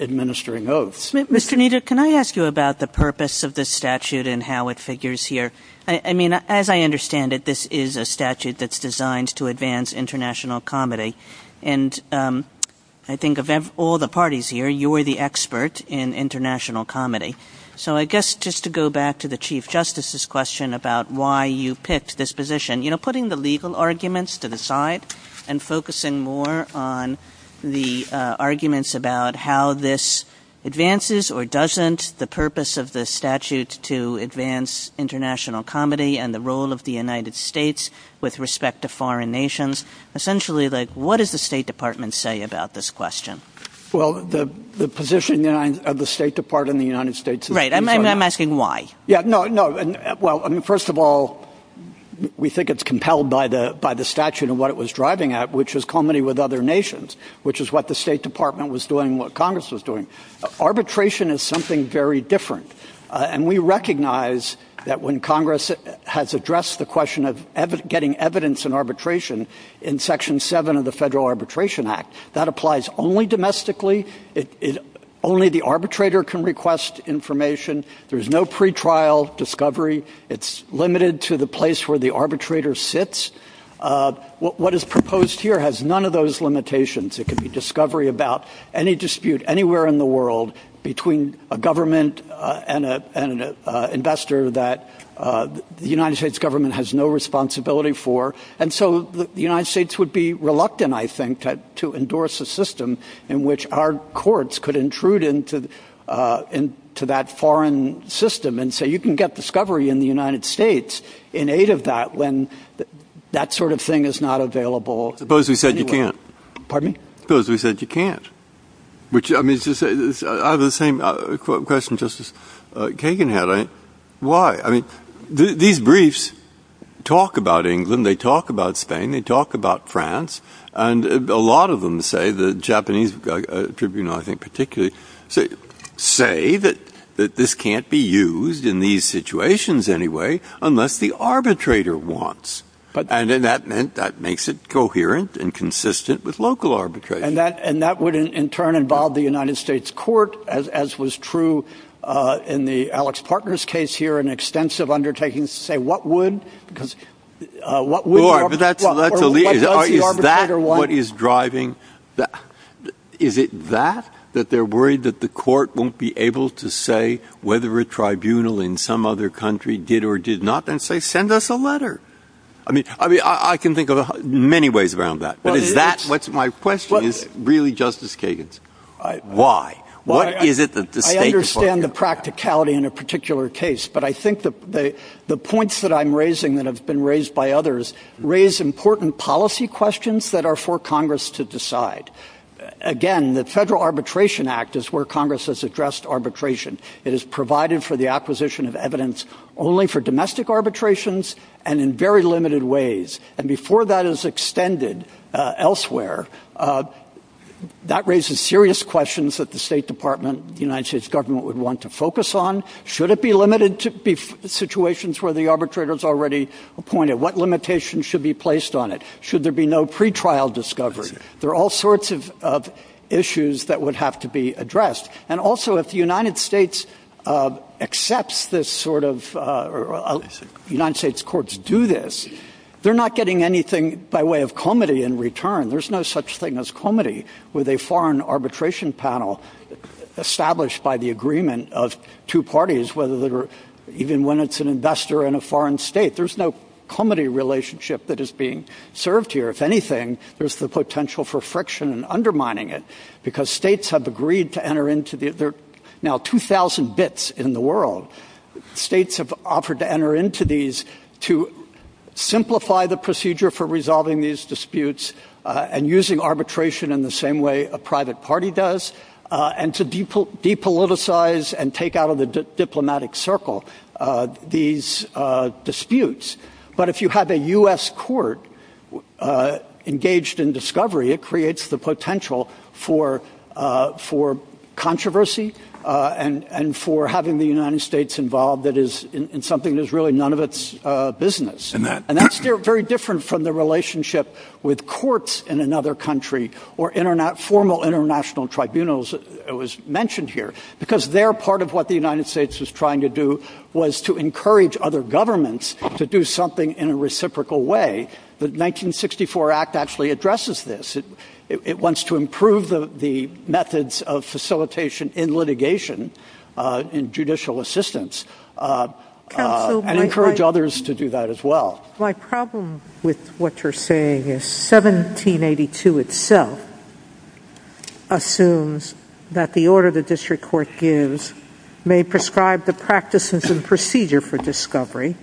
administering oaths. Mr. Kneeder, can I ask you about the purpose of this statute and how it figures here? I mean, as I understand it, this is a statute that's designed to advance international comedy, and I think of all the parties here, you were the expert in international comedy. So I guess just to go back to the Chief Justice's question about why you picked this position, you know, putting the legal arguments to the side and focusing more on the arguments about how this advances or doesn't, the purpose of the statute to advance international comedy and the role of the United States with respect to foreign nations, essentially, like, what does the State Department say about this question? Well, the position of the State Department in the United States... Right, I'm asking why. Yeah, no, no. Well, I mean, first of all, we think it's compelled by the statute and what it was driving at, which is comedy with other nations, which is what the State Department was doing and what Congress was doing. Arbitration is something very different, and we recognize that when Congress has addressed the question of getting evidence in arbitration in Section 7 of the Federal Arbitration Act, that applies only domestically. Only the arbitrator can request information. There's no pretrial discovery. It's limited to the place where the arbitrator sits. What is proposed here has none of those limitations. It could be discovery about any dispute anywhere in the world between a government and an investor that the United States government has no responsibility for. And so the United States would be reluctant, I think, to endorse a system in which our courts could intrude into that foreign system and say you can get discovery in the United States in aid of that when that sort of thing is not available anywhere. Suppose we said you can't. Pardon me? Suppose we said you can't. I have the same question Justice Kagan had. Why? I mean, these briefs talk about England. They talk about Spain. They talk about France. And a lot of them say, the Japanese tribunal, I think particularly, say that this can't be used in these situations anyway unless the arbitrator wants. And that makes it coherent and consistent with local arbitration. And that would in turn involve the United States court, as was true in the Alex Parker's case here, an extensive undertaking to say what would. But that's the lead. Is that what is driving? Is it that, that they're worried that the court won't be able to say whether a tribunal in some other country did or did not, and say send us a letter? I mean, I can think of many ways around that. But is that what my question is really, Justice Kagan? Why? What is it that the state department. I understand the practicality in a particular case. But I think the points that I'm raising that have been raised by others raise important policy questions that are for Congress to decide. Again, the Federal Arbitration Act is where Congress has addressed arbitration. It is provided for the acquisition of evidence only for domestic arbitrations and in very limited ways. And before that is extended elsewhere, that raises serious questions that the State Department, the United States government would want to focus on. Should it be limited to situations where the arbitrator's already appointed? What limitations should be placed on it? Should there be no pretrial discovery? There are all sorts of issues that would have to be addressed. And also, if the United States accepts this sort of, United States courts do this, they're not getting anything by way of comity in return. There's no such thing as comity with a foreign arbitration panel established by the agreement of two parties, whether they're even when it's an investor in a foreign state. There's no comity relationship that is being served here. If anything, there's the potential for friction and undermining it. Because states have agreed to enter into the, there are now 2,000 bits in the world. States have offered to enter into these to simplify the procedure for resolving these disputes and using arbitration in the same way a private party does and to depoliticize and take out of the diplomatic circle these disputes. But if you have a US court engaged in discovery, it creates the potential for controversy and for having the United States involved that is in something that's really none of its business. And that's very different from the relationship with courts in another country or formal international tribunals that was mentioned here. Because there, part of what the United States was trying to do was to encourage other governments to do something in a reciprocal way. The 1964 Act actually addresses this. It wants to improve the methods of facilitation in litigation in judicial assistance and encourage others to do that as well. My problem with what you're saying is 1782 itself assumes that the order the district court gives may prescribe the practices and procedure for discovery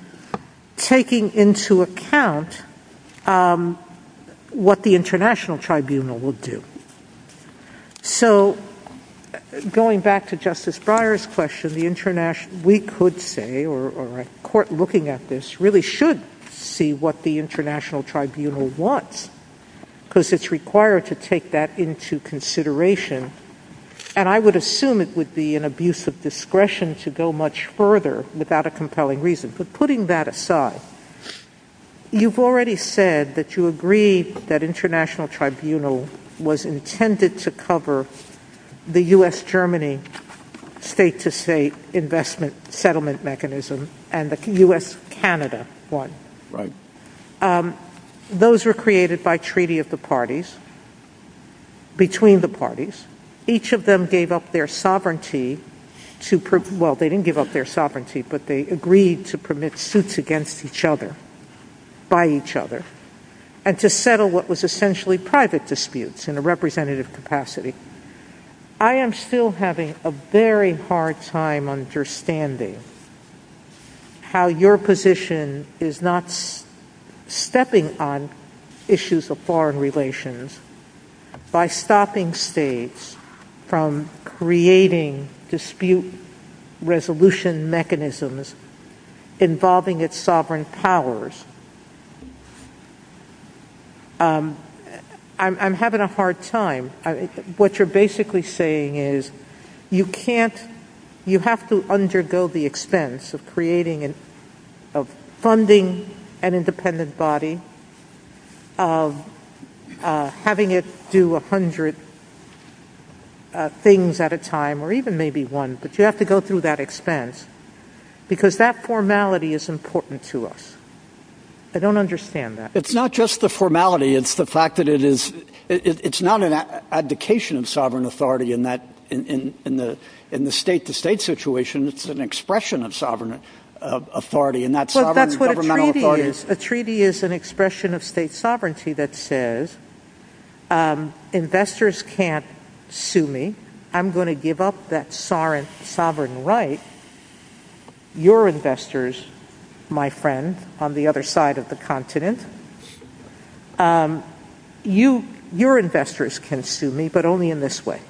taking into account what the international tribunal will do. So going back to Justice Breyer's question, the international, we could say, or a court looking at this really should see what the international tribunal wants because it's required to take that into consideration. And I would assume it would be an abuse of discretion to go much further without a compelling reason. But putting that aside, you've already said that you agree that international tribunal was intended to cover the US-Germany state-to-state investment settlement mechanism and the US-Canada one. Those were created by treaty of the parties, between the parties. Each of them gave up their sovereignty to, well, they didn't give up their sovereignty, but they agreed to permit suits against each other, by each other, and to settle what was essentially private disputes in a representative capacity. I am still having a very hard time understanding how your position is not stepping on issues of foreign relations by stopping states from creating dispute resolution mechanisms involving its sovereign powers. I'm having a hard time. What you're basically saying is you can't, you have to undergo the expense of creating, of funding an independent body, having it do a hundred things at a time, or even maybe one, but you have to go through that expense because that formality is important to us. I don't understand that. It's not just the formality, it's the fact that it is, it's not an abdication of sovereign authority in that, in the state-to-state situation, it's an expression of sovereign authority, and that sovereign governmental authority is... Well, that's what a treaty is. A treaty is an expression of state sovereignty that says, investors can't sue me. I'm going to give up that sovereign right. Your investors, my friend, on the other side of the continent, your investors can sue me, but only in this way.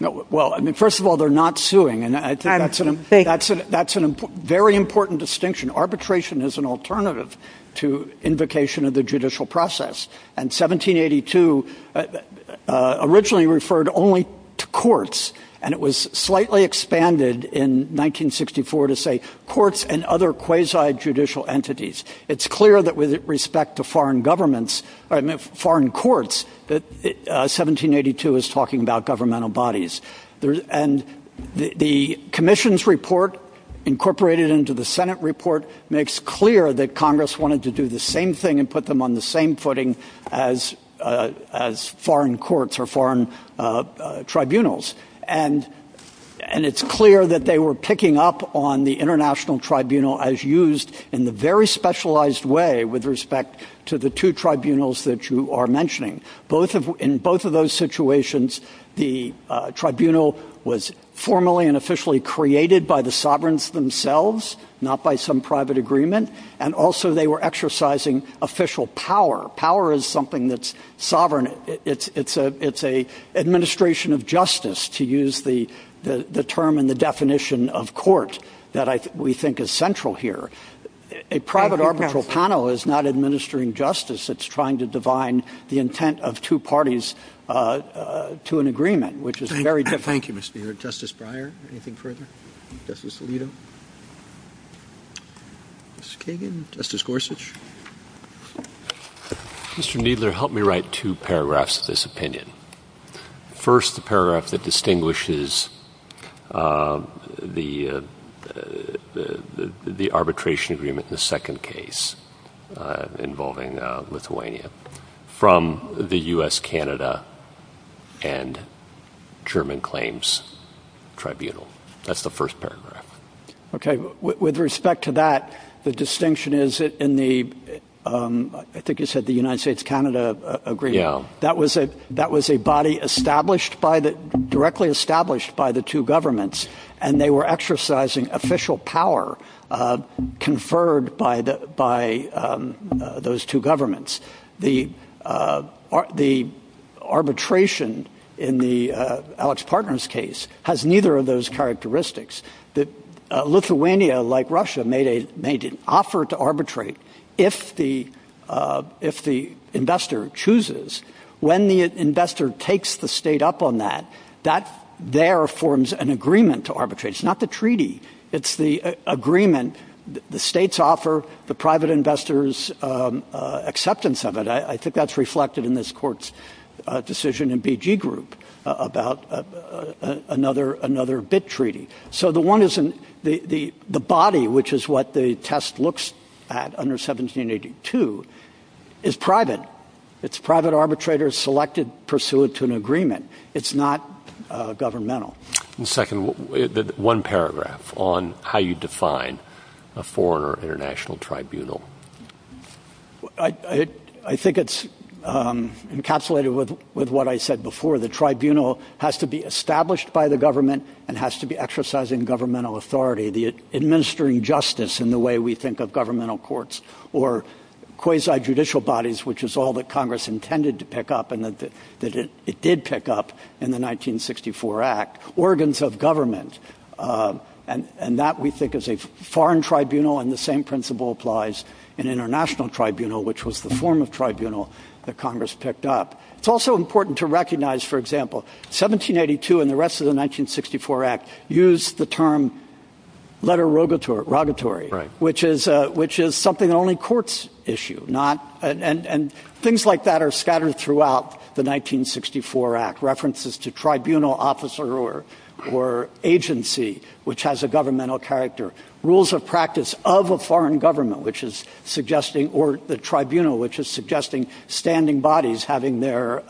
Well, I mean, first of all, they're not suing, and I think that's a very important distinction. Arbitration is an alternative to invocation of the judicial process, and 1782 originally referred only to courts, and it was slightly expanded in 1964 to say, courts and other quasi-judicial entities. It's clear that with respect to foreign governments, I mean, foreign courts, that 1782 is talking about governmental bodies, and the commission's report incorporated into the Senate report makes clear that Congress wanted to do the same thing and put them on the same footing as foreign courts or foreign tribunals, and it's clear that they were picking up on the international tribunal as used in a very specialized way with respect to the two tribunals that you are mentioning. In both of those situations, the tribunal was formally and officially created by the sovereigns themselves, not by some private agreement, and also they were exercising official power. Power is something that's sovereign. It's an administration of justice, to use the term and the definition of courts that we think is central here. A private arbitral panel is not administering justice. It's trying to divine the intent of two parties to an agreement, which is very difficult. Thank you, Mr. Baird. Justice Breyer, anything further? Justice Alito? Justice Kagan? Justice Gorsuch? Mr. Kneedler, help me write two paragraphs of this opinion. First, the paragraph that distinguishes the arbitration agreement in the second case involving Lithuania from the U.S.-Canada and German claims tribunal. That's the first paragraph. Okay, with respect to that, the distinction is that in the, I think you said the United States-Canada agreement, that was a body established by the, directly established by the two governments, and they were exercising official power conferred by those two governments. The arbitration in the Alex Partners case has neither of those characteristics. Lithuania, like Russia, made an offer to arbitrate if the investor chooses. When the investor takes the state up on that, that there forms an agreement to arbitrate. It's not the treaty. It's the agreement the states offer the private investors' acceptance of it. I think that's reflected in this court's decision in BG Group about another BIT treaty. So the one is, the body, which is what the test looks at under 1782, is private. It's private arbitrators selected pursuant to an agreement. It's not governmental. One second, one paragraph on how you define a foreign or international tribunal. I think it's encapsulated with what I said before. The tribunal has to be established by the government and has to be exercising governmental authority, administering justice in the way we think of governmental courts, or quasi-judicial bodies, which is all that Congress intended to pick up and that it did pick up in the 1964 Act. Organs of government, and that we think is a foreign tribunal and the same principle applies in international tribunal, which was the form of tribunal that Congress picked up. It's also important to recognize, for example, 1782 and the rest of the 1964 Act use the term letter rogatory, which is something only courts issue. And things like that are scattered throughout the 1964 Act. References to tribunal officer or agency, which has a governmental character. Rules of practice of a foreign government, which is suggesting, or the tribunal, which is suggesting standing bodies having their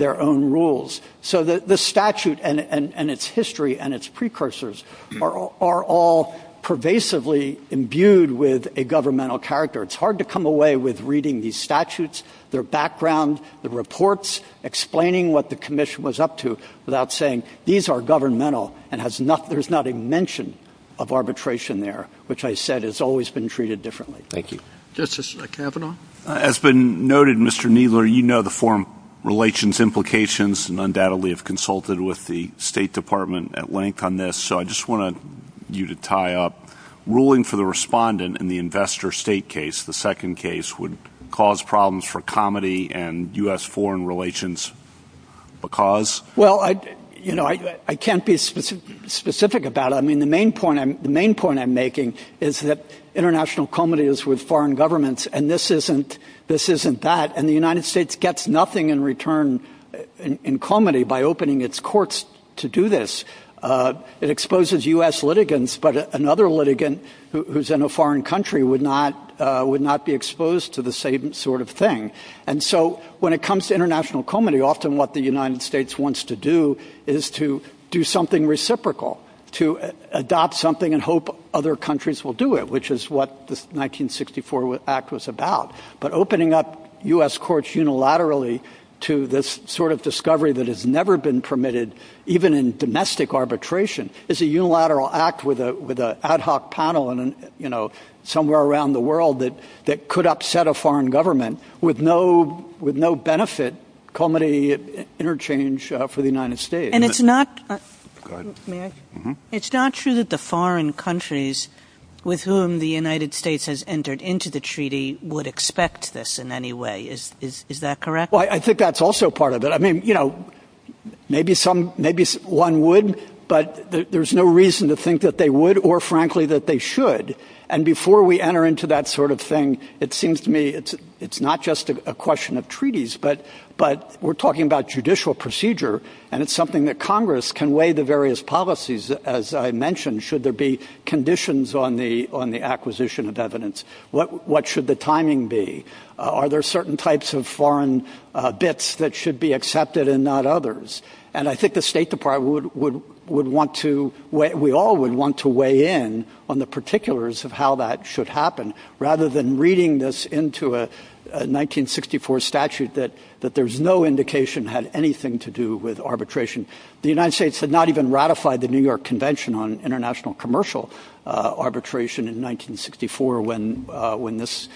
own rules. So the statute and its history and its precursors are all pervasively imbued with a governmental character. It's hard to come away with reading these statutes, their background, the reports, explaining what the commission was up to without saying these are governmental and there's not a mention of arbitration there, which I said has always been treated differently. Thank you. Justice Kavanaugh? As been noted, Mr. Kneedler, you know the foreign relations implications and undoubtedly have consulted with the State Department at length on this. So I just want you to tie up. Ruling for the respondent in the investor state case, the second case, would cause problems for comedy and U.S. foreign relations because? Well, you know, I can't be specific about it. I mean, the main point I'm making is that international comedy is with foreign governments and this isn't that. And the United States gets nothing in return in comedy by opening its courts to do this. It exposes U.S. litigants, but another litigant who's in a foreign country would not be exposed to the same sort of thing. And so when it comes to international comedy, often what the United States wants to do is to do something reciprocal, to adopt something and hope other countries will do it, which is what the 1964 Act was about. But opening up U.S. courts unilaterally to this sort of discovery that has never been permitted, even in domestic arbitration, is a unilateral act with an ad hoc panel somewhere around the world that could upset a foreign government with no benefit comedy interchange for the United States. And it's not true that the foreign countries with whom the United States has entered into the treaty would expect this in any way. Is that correct? Well, I think that's also part of it. I mean, you know, maybe one would, but there's no reason to think that they would or, frankly, that they should. And before we enter into that sort of thing, it seems to me it's not just a question of treaties, but we're talking about judicial procedure, and it's something that Congress can weigh the various policies, as I mentioned, should there be conditions on the acquisition of evidence. What should the timing be? Are there certain types of foreign bits that should be accepted and not others? And I think the State Department would want to, we all would want to weigh in on the particulars of how that should happen, rather than reading this into a 1964 statute that there's no indication had anything to do with arbitration. The United States had not even ratified the New York Convention on International Commercial Arbitration in 1964 when this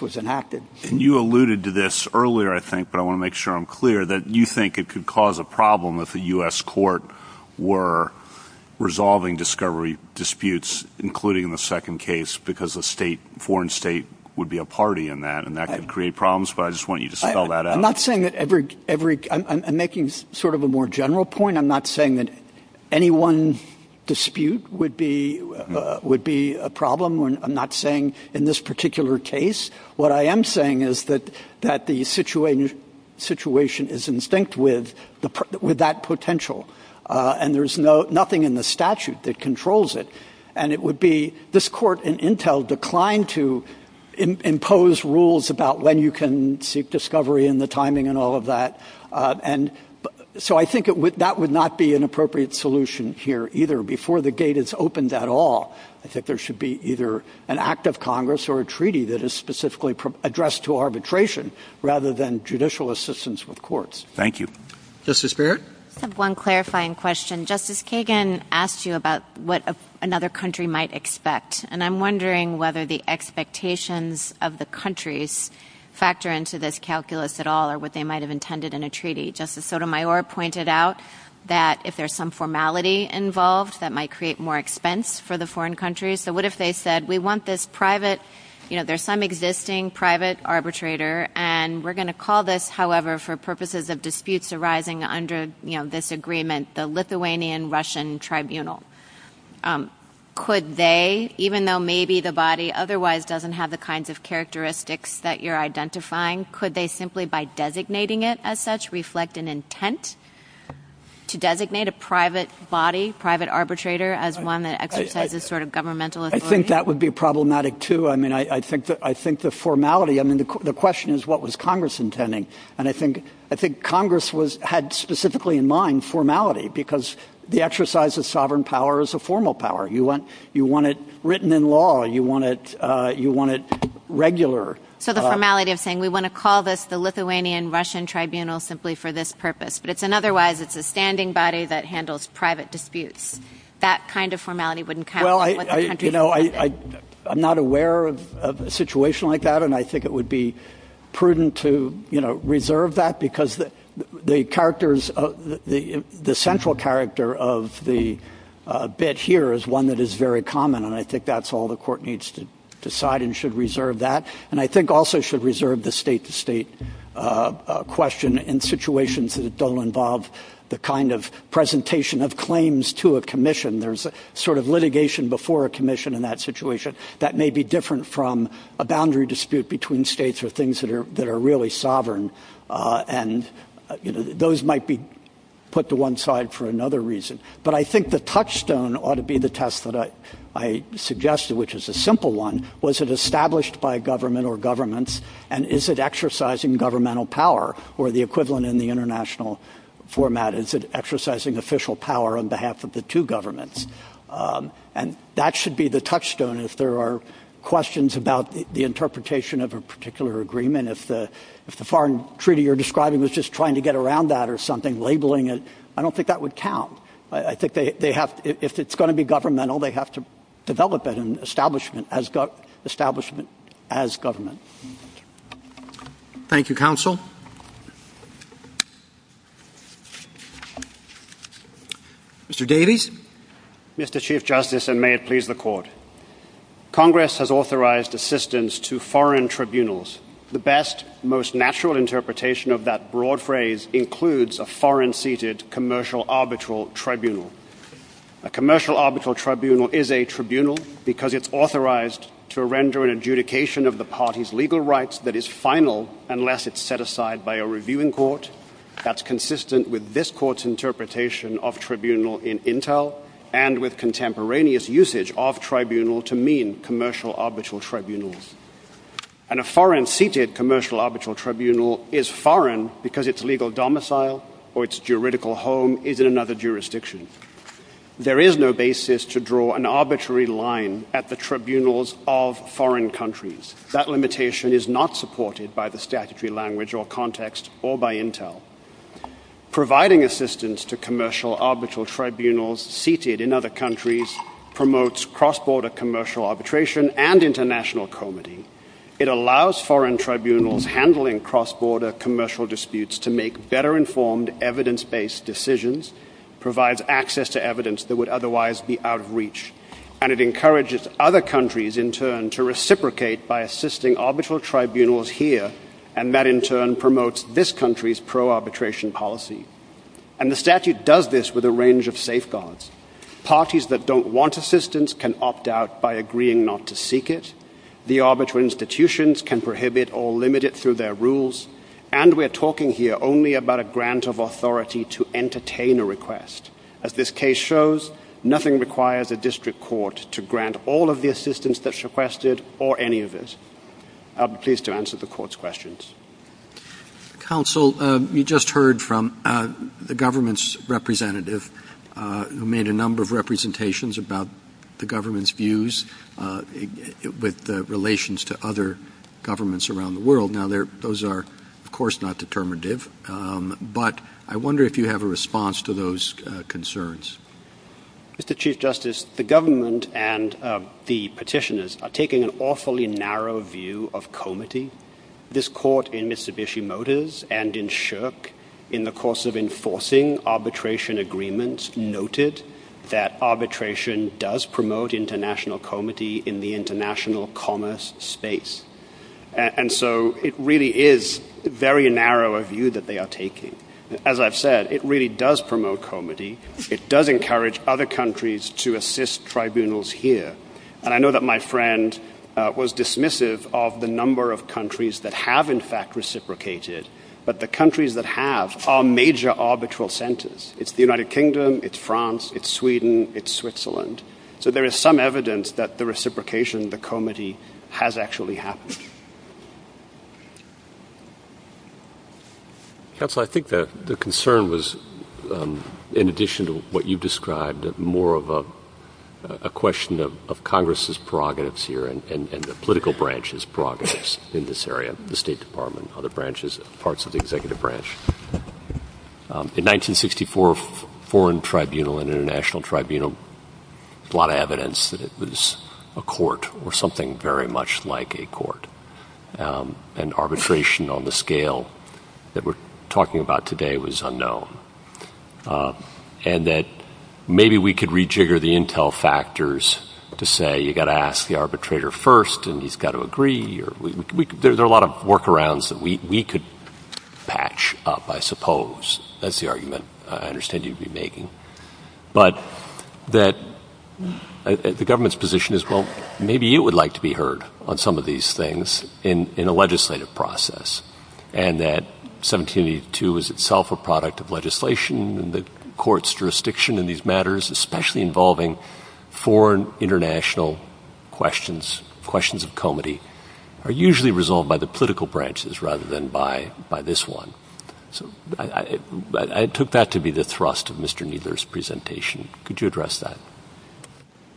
was enacted. You alluded to this earlier, I think, but I want to make sure I'm clear, that you think it could cause a problem if the U.S. court were resolving discovery disputes, including the second case, because a foreign state would be a party in that, and that could create problems, but I just want you to spell that out. I'm not saying that every... I'm making sort of a more general point. I'm not saying that any one dispute would be a problem. I'm not saying in this particular case. What I am saying is that the situation is in sync with that potential, and there's nothing in the statute that controls it, and it would be this court in Intel declined to impose rules about when you can seek discovery and the timing and all of that, and so I think that would not be an appropriate solution here either before the gate is opened at all. I think there should be either an act of Congress or a treaty that is specifically addressed to arbitration rather than judicial assistance with courts. Thank you. Justice Barrett? I have one clarifying question. Justice Kagan asked you about what another country might expect, and I'm wondering whether the expectations of the countries factor into this calculus at all or what they might have intended in a treaty. Justice Sotomayor pointed out that if there's some formality involved, that might create more expense for the foreign countries, so what if they said we want this private, you know, there's some existing private arbitrator, and we're going to call this, however, for purposes of disputes arising under this agreement, the Lithuanian-Russian Tribunal. Could they, even though maybe the body otherwise doesn't have the kinds of characteristics that you're identifying, could they simply by designating it as such reflect an intent to designate a private body, private arbitrator, as one that exercises sort of governmental authority? I think that would be problematic, too. I mean, I think the formality, I mean, the question is what was Congress intending, and I think Congress had specifically in mind formality because the exercise of sovereign power is a formal power. You want it written in law. You want it regular. So the formality of saying we want to call this the Lithuanian-Russian Tribunal simply for this purpose, but it's an otherwise, it's a standing body that handles private disputes. That kind of formality wouldn't count. Well, you know, I'm not aware of a situation like that, and I think it would be prudent to, you know, reserve that because the characters, the central character of the bit here is one that is very common, and I think that's all the court needs to decide and should reserve that, and I think also should reserve the state-to-state question in situations that don't involve the kind of presentation of claims to a commission. There's a sort of litigation before a commission in that situation that may be different from a boundary dispute between states or things that are really sovereign, and those might be put to one side for another reason, but I think the touchstone ought to be the test that I suggested, which is a simple one. Was it established by government or governments, and is it exercising governmental power or the equivalent in the international format? Is it exercising official power on behalf of the two governments? And that should be the touchstone if there are questions about the interpretation of a particular agreement. If the foreign treaty you're describing was just trying to get around that or something, labeling it, I don't think that would count. I think they have to, if it's going to be governmental, they have to develop an establishment as government. Thank you, Counsel. Mr. Daly. Mr. Chief Justice, and may it please the Court. Congress has authorized assistance to foreign tribunals. The best, most natural interpretation of that broad phrase includes a foreign-seated commercial arbitral tribunal. A commercial arbitral tribunal is a tribunal because it's authorized to render an adjudication of the party's legal rights that is final unless it's set aside by a reviewing court. That's consistent with this Court's interpretation of tribunal in intel and with contemporaneous usage of tribunal to mean commercial arbitral tribunals. And a foreign-seated commercial arbitral tribunal is foreign because its legal domicile or its juridical home is in another jurisdiction. There is no basis to draw an arbitrary line at the tribunals of foreign countries. That limitation is not supported by the statutory language or context or by intel. Providing assistance to commercial arbitral tribunals seated in other countries promotes cross-border commercial arbitration and international comity. It allows foreign tribunals handling cross-border commercial disputes to make better-informed, evidence-based decisions, provides access to evidence that would otherwise be out of reach, and it encourages other countries in turn to reciprocate by assisting arbitral tribunals here and that in turn promotes this country's pro-arbitration policy. And the statute does this with a range of safeguards. Parties that don't want assistance can opt out by agreeing not to seek it. The arbitral institutions can prohibit or limit it through their rules. And we're talking here only about a grant of authority to entertain a request. As this case shows, nothing requires a district court to grant all of the assistance that's requested or any of this. I'll be pleased to answer the court's questions. Counsel, you just heard from the government's representative who made a number of representations about the government's views with relations to other governments around the world. Now, those are, of course, not determinative, but I wonder if you have a response to those concerns. Mr. Chief Justice, the government and the petitioners are taking an awfully narrow view of comity. This court in Mitsubishi Motors and in SSHRC in the course of enforcing arbitration agreements noted that arbitration does promote international comity in the international commerce states. And so it really is a very narrow view that they are taking. As I've said, it really does promote comity. It does encourage other countries to assist tribunals here. And I know that my friend was dismissive of the number of countries that have in fact reciprocated, but the countries that have are major arbitral centers. It's the United Kingdom, it's France, it's Sweden, it's Switzerland. So there is some evidence that the reciprocation, the comity has actually happened. Counselor, I think the concern was in addition to what you've described question of Congress' prerogatives here and the political branch's prerogatives in this area, the State Department, other branches, parts of the executive branch. In 1964, foreign tribunal and international tribunal brought evidence that it was a court or something very much like a court. And that arbitration on the scale that we're talking about today was unknown. And that maybe we could rejigger the intel factors to say you've got to ask the arbitrator first and he's got to agree. There's a lot of workarounds that we could patch up, I suppose. That's the argument I understand you'd be making. But that the government's position is, well, maybe you would like to be heard on some of these things in a legislative process. And that 1782 is itself a product of legislation and the court's jurisdiction in these matters, especially involving foreign, international questions, questions of comity, are usually resolved by the political branches rather than by this one. So I took that to be the thrust of Mr. Kneedler's presentation. Could you address that?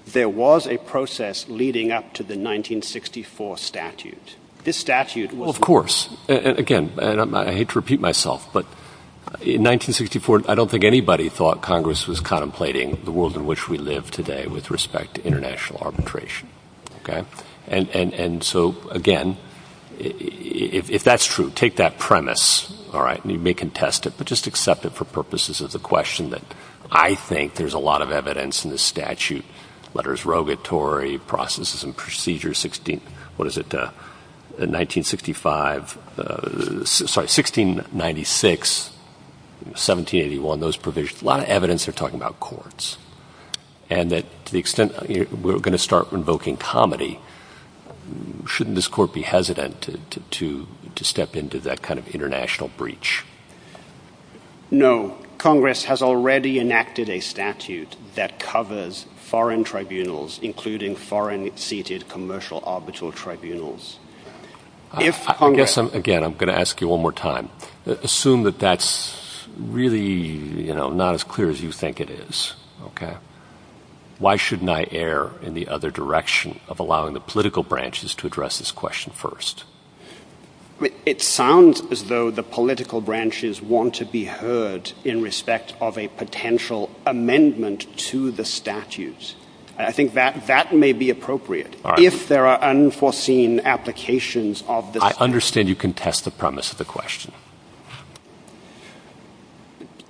There was a process leading up to the 1964 statute. This statute Of course. Again, I hate to repeat myself, but in 1964, I don't think anybody thought Congress was contemplating the world in which we live today with respect to international arbitration. And so, again, if that's true, take that premise, you may contest it, but just accept it for purposes of the question that I think there's a lot of evidence in this statute. Letters, regulatory processes and procedures, what is it, 1965, sorry, 1696, 1781, those provisions, a lot of evidence are talking about courts. And to the extent we're going to start invoking comity, shouldn't this court be hesitant to step into that kind of international breach? No. Congress has already enacted a statute that covers foreign tribunals, including foreign seated commercial arbitral tribunals. Again, I'm going to ask you one more time. Assume that that's really, you know, not as clear as you think it is. Why shouldn't I err in the other direction of allowing the political branches to address this question first? It sounds as though the political branches want to be heard in respect of a potential amendment to the statutes. I think that may be appropriate. If there are unforeseen applications of the I understand you contest the premise of the question.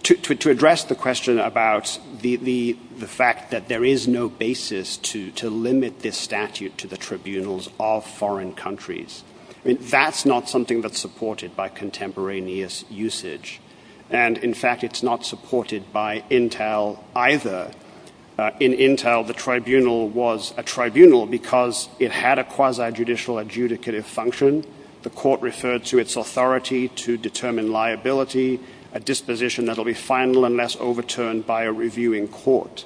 To address the question about the fact that there is no basis to limit this statute to the tribunals of foreign countries, that's not something that's supported by contemporaneous usage. And in fact, it's not supported by Intel either. In Intel, the tribunal was a tribunal because it had a quasi judicial adjudicative function. The court referred to its authority to determine liability, a disposition that will be final unless overturned by a reviewing court.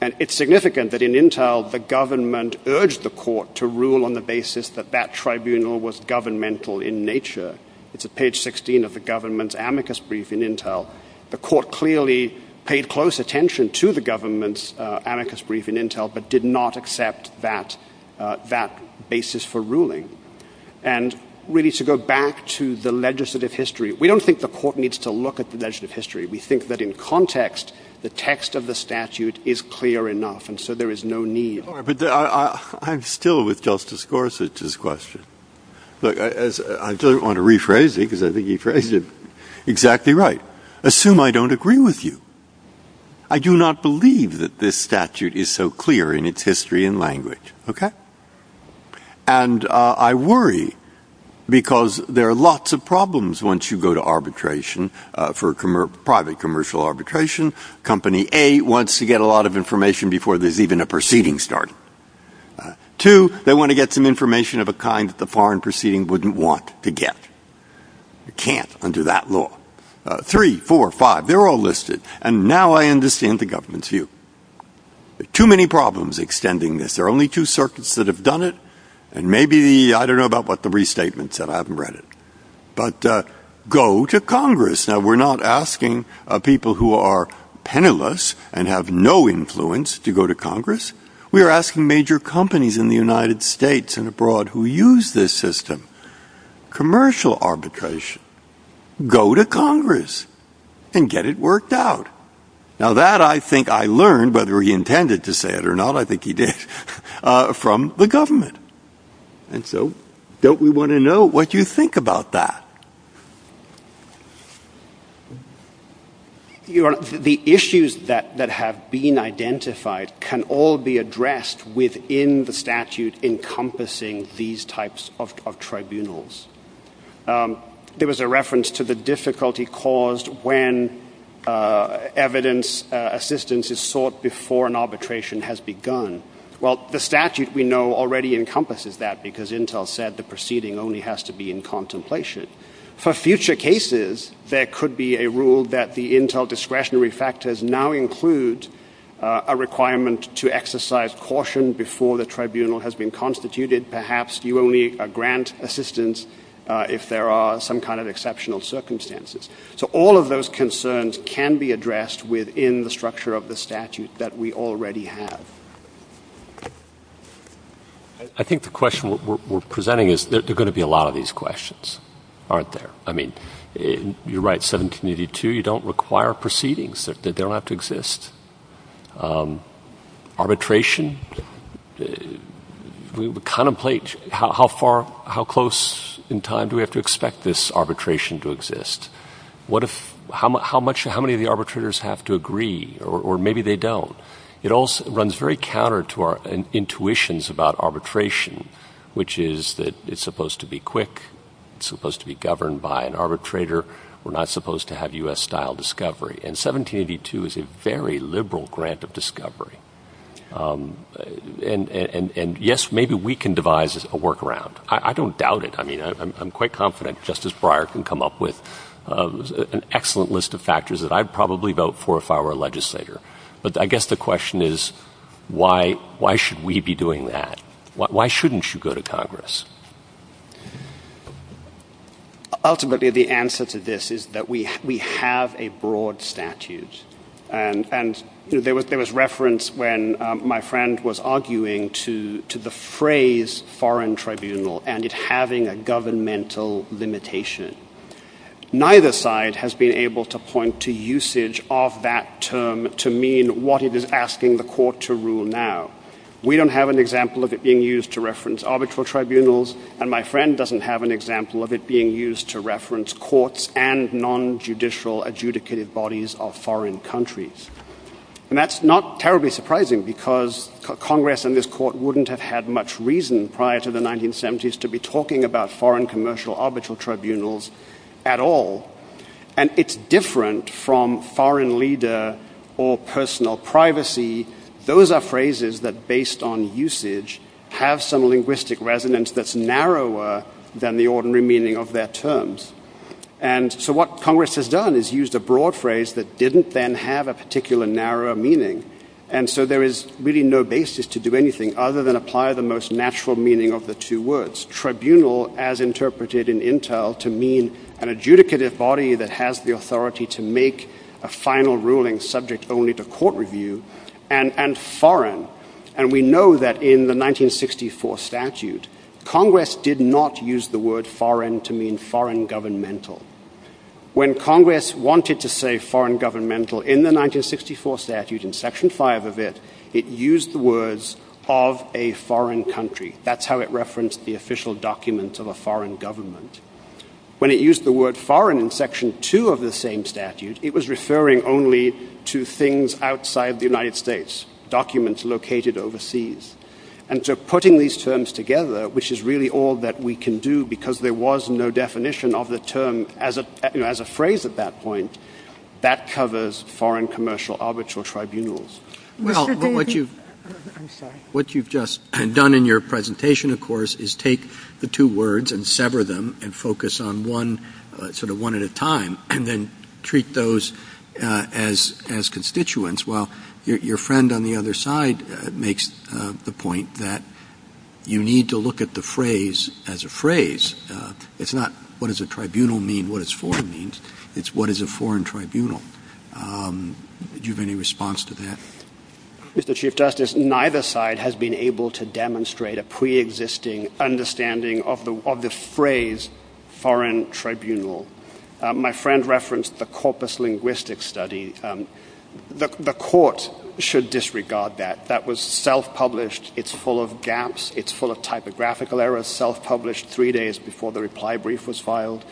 And it's significant that in Intel, the government urged the court to rule on the basis that that was the nature. It's at page 16 of the government's amicus brief in Intel. The court clearly paid close attention to the government's amicus brief in Intel, but did not accept that basis for ruling. And really to go back to the legislative history, we don't think the court needs to look at the legislative history. We think that in context, the text of the statute is clear enough, and so there is no need. I'm still with Justice Gorsuch's question. I don't want to rephrase it because I think he phrased it exactly right. Assume I don't agree with you. I do not believe that this statute is so clear in its history and language. And I worry because there are lots of problems once you go to arbitration for private commercial arbitration. Company A wants to get a lot of information before there's even a proceeding started. Two, they want to get some information of a kind that the foreign proceeding wouldn't want to get. It can't under that law. Three, four, five, they're all listed. And now I understand the government's view. Too many problems extending this. There are only two circuits that have done it, and maybe I don't know about what the restatement said. I haven't read it. But go to Congress. Now we're not asking people who are penniless and have no influence to go to Congress. We are asking major companies in the United States and abroad who use this system. Commercial arbitration. Go to Congress and get it worked out. Now that I think I learned, whether he intended to say it or not, I think he did, from the government. And so don't we want to know what you think about that? The issues that have been identified can all be addressed within the statute encompassing these types of tribunals. There was a reference to the difficulty caused when evidence assistance is sought before an arbitration has begun. Well, the statute we know already encompasses that because Intel said the proceeding only has to be in contemplation. For future cases, there could be a rule that the statute now includes a requirement to exercise caution before the tribunal has been constituted. Perhaps you only grant assistance if there are some kind of exceptional circumstances. So all of those concerns can be addressed within the structure of the statute that we already have. I think the question we're presenting is that there are going to be a lot of these questions. Aren't there? I mean, you write 1782. You don't require proceedings. They don't have to exist. Arbitration? We contemplate how close in time do we have to expect this arbitration to exist? How many of the arbitrators have to agree or maybe they don't? It runs very counter to our intuitions about arbitration, which is that it's supposed to be quick, it's supposed to be governed by an arbitrator. We're not supposed to have U.S.-style discovery. And 1782 is a very liberal grant of discovery. And yes, maybe we can devise a workaround. I don't doubt it. I mean, I'm quite confident Justice Breyer can come up with an excellent list of factors that I'd probably vote for if I were a legislator. But I guess the question is why should we be doing that? Why shouldn't you go to Congress? The answer to this is that we have a broad statute. And there was reference when my friend was arguing to the phrase foreign tribunal and it having a governmental limitation. Neither side has been able to point to usage of that term to mean what it is asking the court to rule now. We don't have an example of it being used to reference arbitral tribunals, and my friend doesn't have an example of it being used to reference courts and non-judicial adjudicated bodies of foreign countries. And that's not terribly surprising because Congress and this court wouldn't have had much reason prior to the 1970s to be talking about foreign commercial arbitral tribunals at all. And it's different from foreign leader or personal privacy. Those are phrases that based on usage have some linguistic resonance that's narrower than the ordinary meaning of their terms. And so what Congress has done is used a broad phrase that didn't then have a particular narrow meaning. And so there is really no basis to do anything other than apply the most natural meaning of the two words. Tribunal as interpreted in Intel to mean an adjudicated body that has the authority to make a final ruling subject only to court review and foreign. And we know that in the 1964 statute, Congress did not use the word foreign to mean foreign governmental. When Congress wanted to say foreign governmental in the 1964 statute in section 5 of it, it used the words of a foreign country. That's how it referenced the official documents of a foreign government. When it used the word foreign in section 2 of the same statute, it was referring only to things outside the United States, documents located overseas. And so putting these terms together, which is really all that we can do because there was no definition of the term as a phrase at that point, that covers foreign commercial arbitral tribunals. What you've just done in your presentation, of course, is take the two words and sever them and focus on one sort of one at a time and then treat those as constituents while your friend on the other side makes the point that you need to look at the phrase as a phrase. It's not what does a tribunal mean, what is foreign means. It's what is a foreign tribunal. Do you have any response to that? Mr. Chief Justice, neither side has been able to demonstrate a pre-existing understanding of the phrase foreign tribunal. My friend referenced the corpus linguistic study. The court should disregard that. That was self-published. It's full of gaps. It's full of typographical errors. Self-published three days before the reply brief was filed.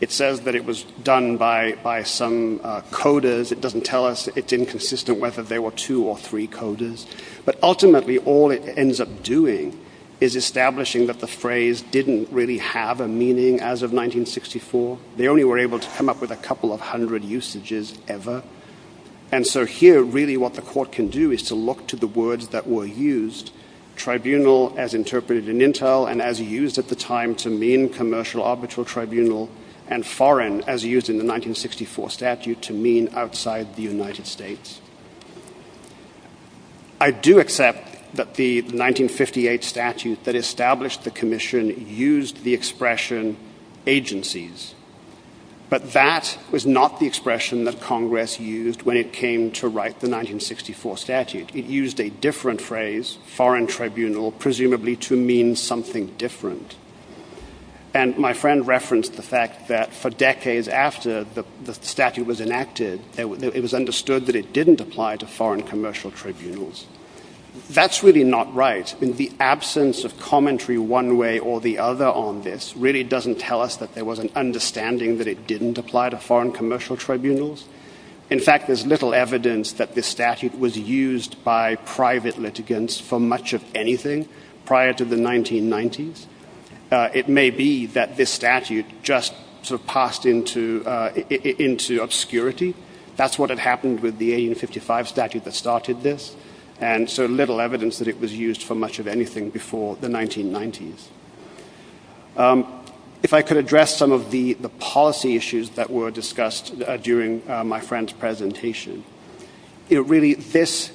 It says that it was done by some coders. It doesn't tell us. It's inconsistent whether there were two or three coders. But ultimately, all it ends up doing is establishing that the phrase didn't really have a meaning as of 1964. They only were able to come up with a definition of tribunal. And so here, really, what the court can do is to look to the words that were used, tribunal as interpreted in Intel and as used at the time to mean commercial arbitral tribunal and foreign as used in the 1964 statute to mean outside the United States. I do accept that the 1958 statute that established the commission used the expression agencies, but that was not the expression that Congress used when it came to write the 1964 statute. It used a different phrase, foreign tribunal, presumably to mean something different. And my friend referenced the fact that for decades after the statute was enacted, it was understood that it didn't apply to foreign commercial tribunals. That's really not right. In the absence of commentary one way or the other on this really doesn't tell us that there was an understanding that it didn't apply to foreign commercial tribunals. In fact, there's little evidence that this statute was used by private litigants for much of anything prior to the 1990s. It may be that this statute just sort of passed into obscurity. That's what had happened with the 1855 statute that started this. And so little evidence that it was used for much of anything before the 1990s. If I could address some of the policy issues that were discussed during my friend's presentation, really this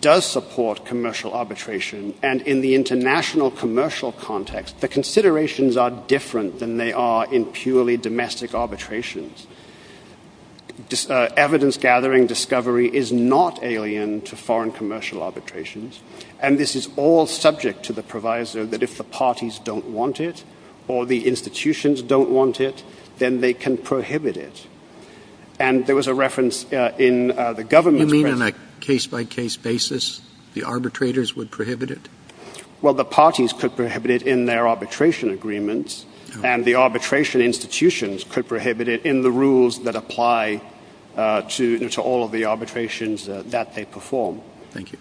does support commercial arbitration and in the international commercial context the considerations are different than they are in purely domestic arbitrations. Evidence gathering discovery is not alien to foreign commercial arbitrations and this is all subject to the proviso that if the parties don't want it or the institutions don't want it, then they can prohibit it. And there was a reference in the government You mean on a case by case basis the arbitrators would prohibit it? Well, the parties could prohibit it in their arbitration agreements and the arbitration institutions could prohibit it in the rules that apply to all of the arbitrations that they perform. Thank you.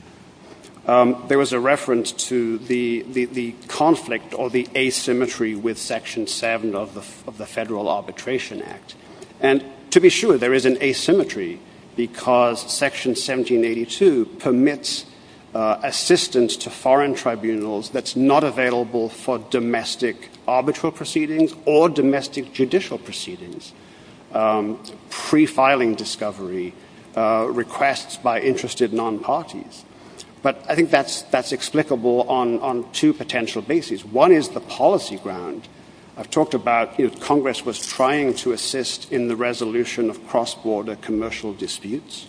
There was a reference to the conflict or the asymmetry with Section 7 of the Federal Arbitration Act and to be sure there is an asymmetry because Section 1782 permits assistance to foreign tribunals that's not available for domestic arbitral proceedings or domestic judicial proceedings. Pre-filing discovery requests by interested non-parties. But I think that's explicable on two potential bases. One is the policy ground. I've talked about if Congress was trying to assist in the resolution of cross-border commercial disputes.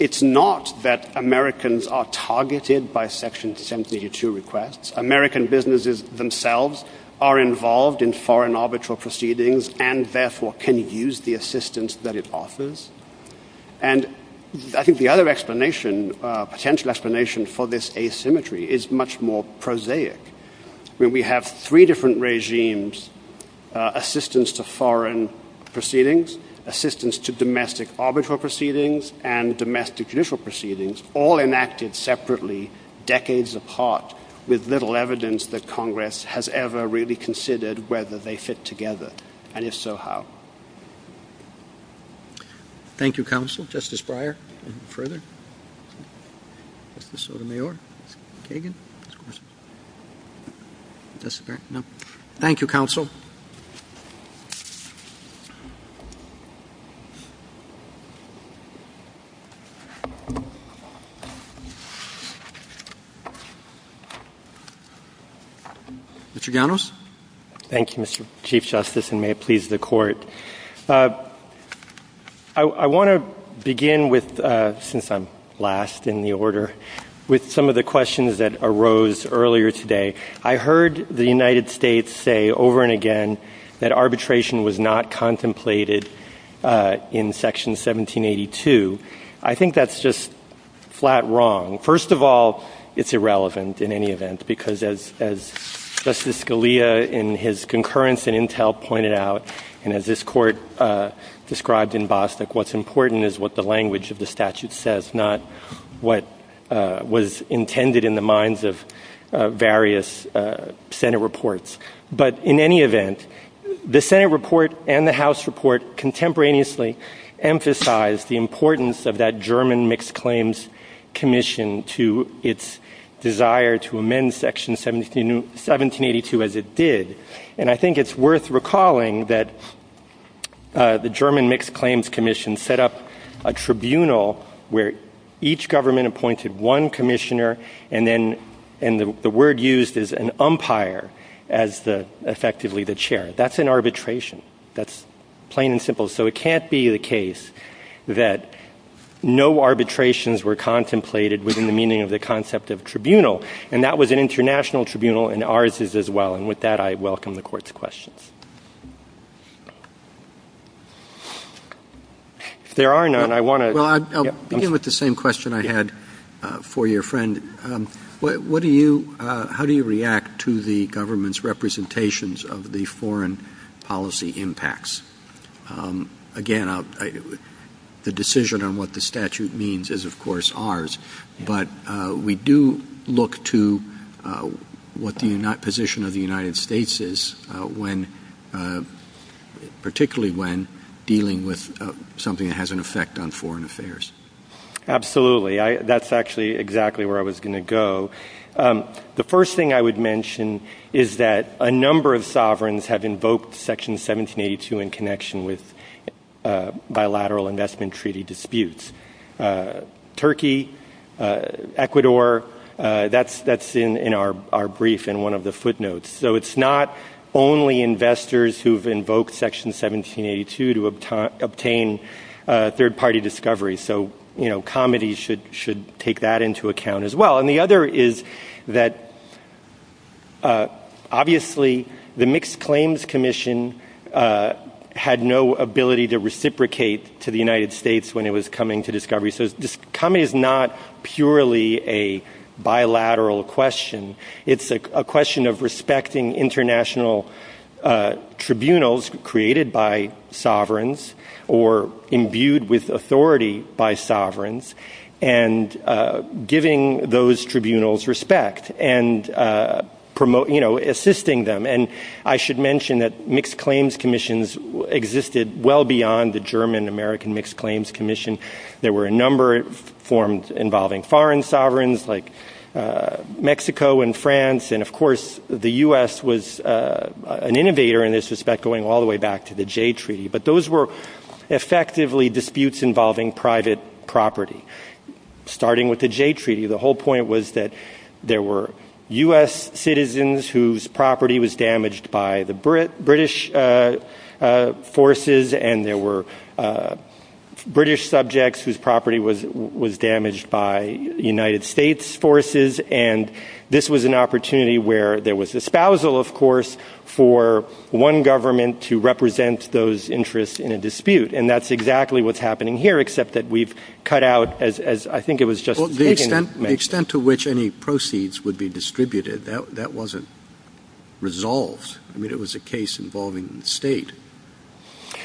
It's not that Americans are targeted by Section 1782 requests. American businesses themselves are involved in foreign arbitral proceedings and therefore can use the assistance that it offers. I think the other potential explanation for this asymmetry is much more prosaic. We have three different regimes, assistance to foreign proceedings, assistance to domestic arbitral proceedings and domestic judicial proceedings all enacted separately decades apart with little evidence that Congress has ever really considered whether they fit together and if so, how. Thank you Counsel. Justice Breyer. Thank you, Counsel. Mr. Ganos. Thank you, Mr. Chief Justice and may it please the Court. I want to begin with since I'm last in the order with some of the questions that arose earlier today. I heard the United States say over and again that arbitration was not contemplated in Section 1782. I think that's just flat wrong. First of all, it's irrelevant in any event because as Justice Scalia in his concurrence in Intel pointed out and as this Court described in Bostock, what's important is what the language of the statute says, not what was intended in the minds of various Senate reports. But in any event, the Senate report and the House report contemporaneously emphasize the importance of that German Mixed Claims Commission to its desire to amend Section 1782 as it did. And I think it's worth recalling that the German Mixed Claims Commission set up a tribunal where each government appointed one commissioner and then the word used is an umpire as effectively the chair. That's an arbitration. That's plain and simple. So it can't be the case that no arbitrations were contemplated within the meaning of the concept of tribunal. And that was an international tribunal and ours is as well. And with that, I welcome the Court's questions. If there are none, I want to... Well, I'll begin with the same question I had for your friend. How do you react to the government's representations of the foreign policy impacts? Again, the decision on what the statute means is, of course, ours. But we do look to what the position of the United States is particularly when dealing with something that has an effect on foreign affairs. Absolutely. That's actually exactly where I was going to go. The first thing I would mention is that a number of sovereigns have invoked Section 1782 in connection with bilateral investment treaty disputes. Turkey, Ecuador, that's in our brief in one of the footnotes. So it's not only investors who've invoked Section 1782 to obtain third-party discovery. So comity should take that into account as well. And the other is that obviously the Mixed Claims Commission had no ability to reciprocate to the United States when it was coming to discovery. So comity is not purely a bilateral question. It's a question of respecting international tribunals created by sovereigns or imbued with authority by sovereigns and giving those tribunals respect and assisting them. And I should mention that the Mixed Claims Commission existed well beyond the German American Mixed Claims Commission. There were a number of forms involving foreign sovereigns like Mexico and France. And of course the U.S. was an innovator in this respect going all the way back to the Jay Treaty. But those were effectively disputes involving private property. Starting with the Jay Treaty, the whole point was that there were U.S. citizens whose property was damaged by the British forces and there were British subjects whose property was damaged by United States forces and this was an opportunity where there was a spousal of course for one government to represent those interests in a dispute. And that's exactly what's happening here except that we've cut out as I think it was just... The extent to which any proceeds would be resolved. I mean it was a case involving the state.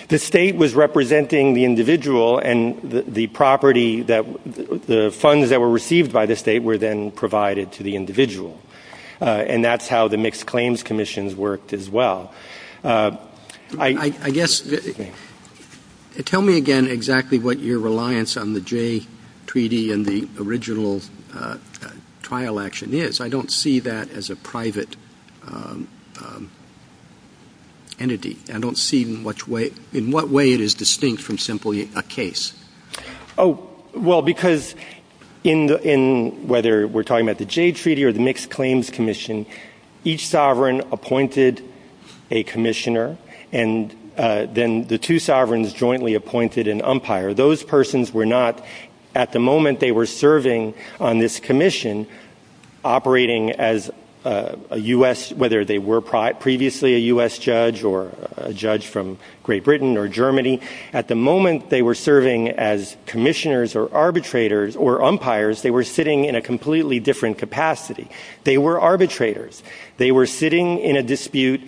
The state was representing the individual and the property that the funds that were received by the state were then provided to the individual. And that's how the Mixed Claims Commission worked as well. I guess... Tell me again exactly what your reliance on the Jay Treaty and the original trial action is. I don't see that as a private entity. I don't see in what way it is distinct from simply a case. Well because in whether we're talking about the Jay Treaty or the Mixed Claims Commission each sovereign appointed a commissioner and then the two sovereigns jointly appointed an umpire. Those persons were not at the moment they were serving on this commission operating as a U.S. whether they were previously a U.S. judge or a judge from Great Britain or Germany. At the moment they were serving as commissioners or arbitrators or umpires. They were sitting in a completely different capacity. They were arbitrators. They were sitting in a dispute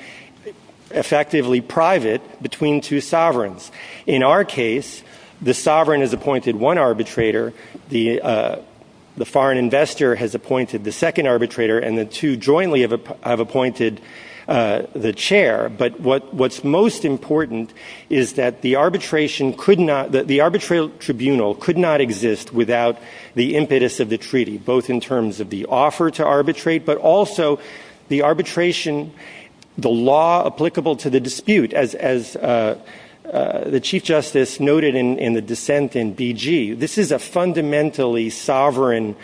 effectively private between two sovereigns. In our case the sovereign has appointed one arbitrator. The foreign investor has appointed the second arbitrator and the two jointly have appointed the chair but what's most important is that the arbitration could not, the arbitral tribunal could not exist without the impetus of the treaty both in terms of the offer to arbitrate but also the arbitration the law applicable to the dispute as the Chief Justice noted in the dissent in B.G. This is a fundamentally sovereign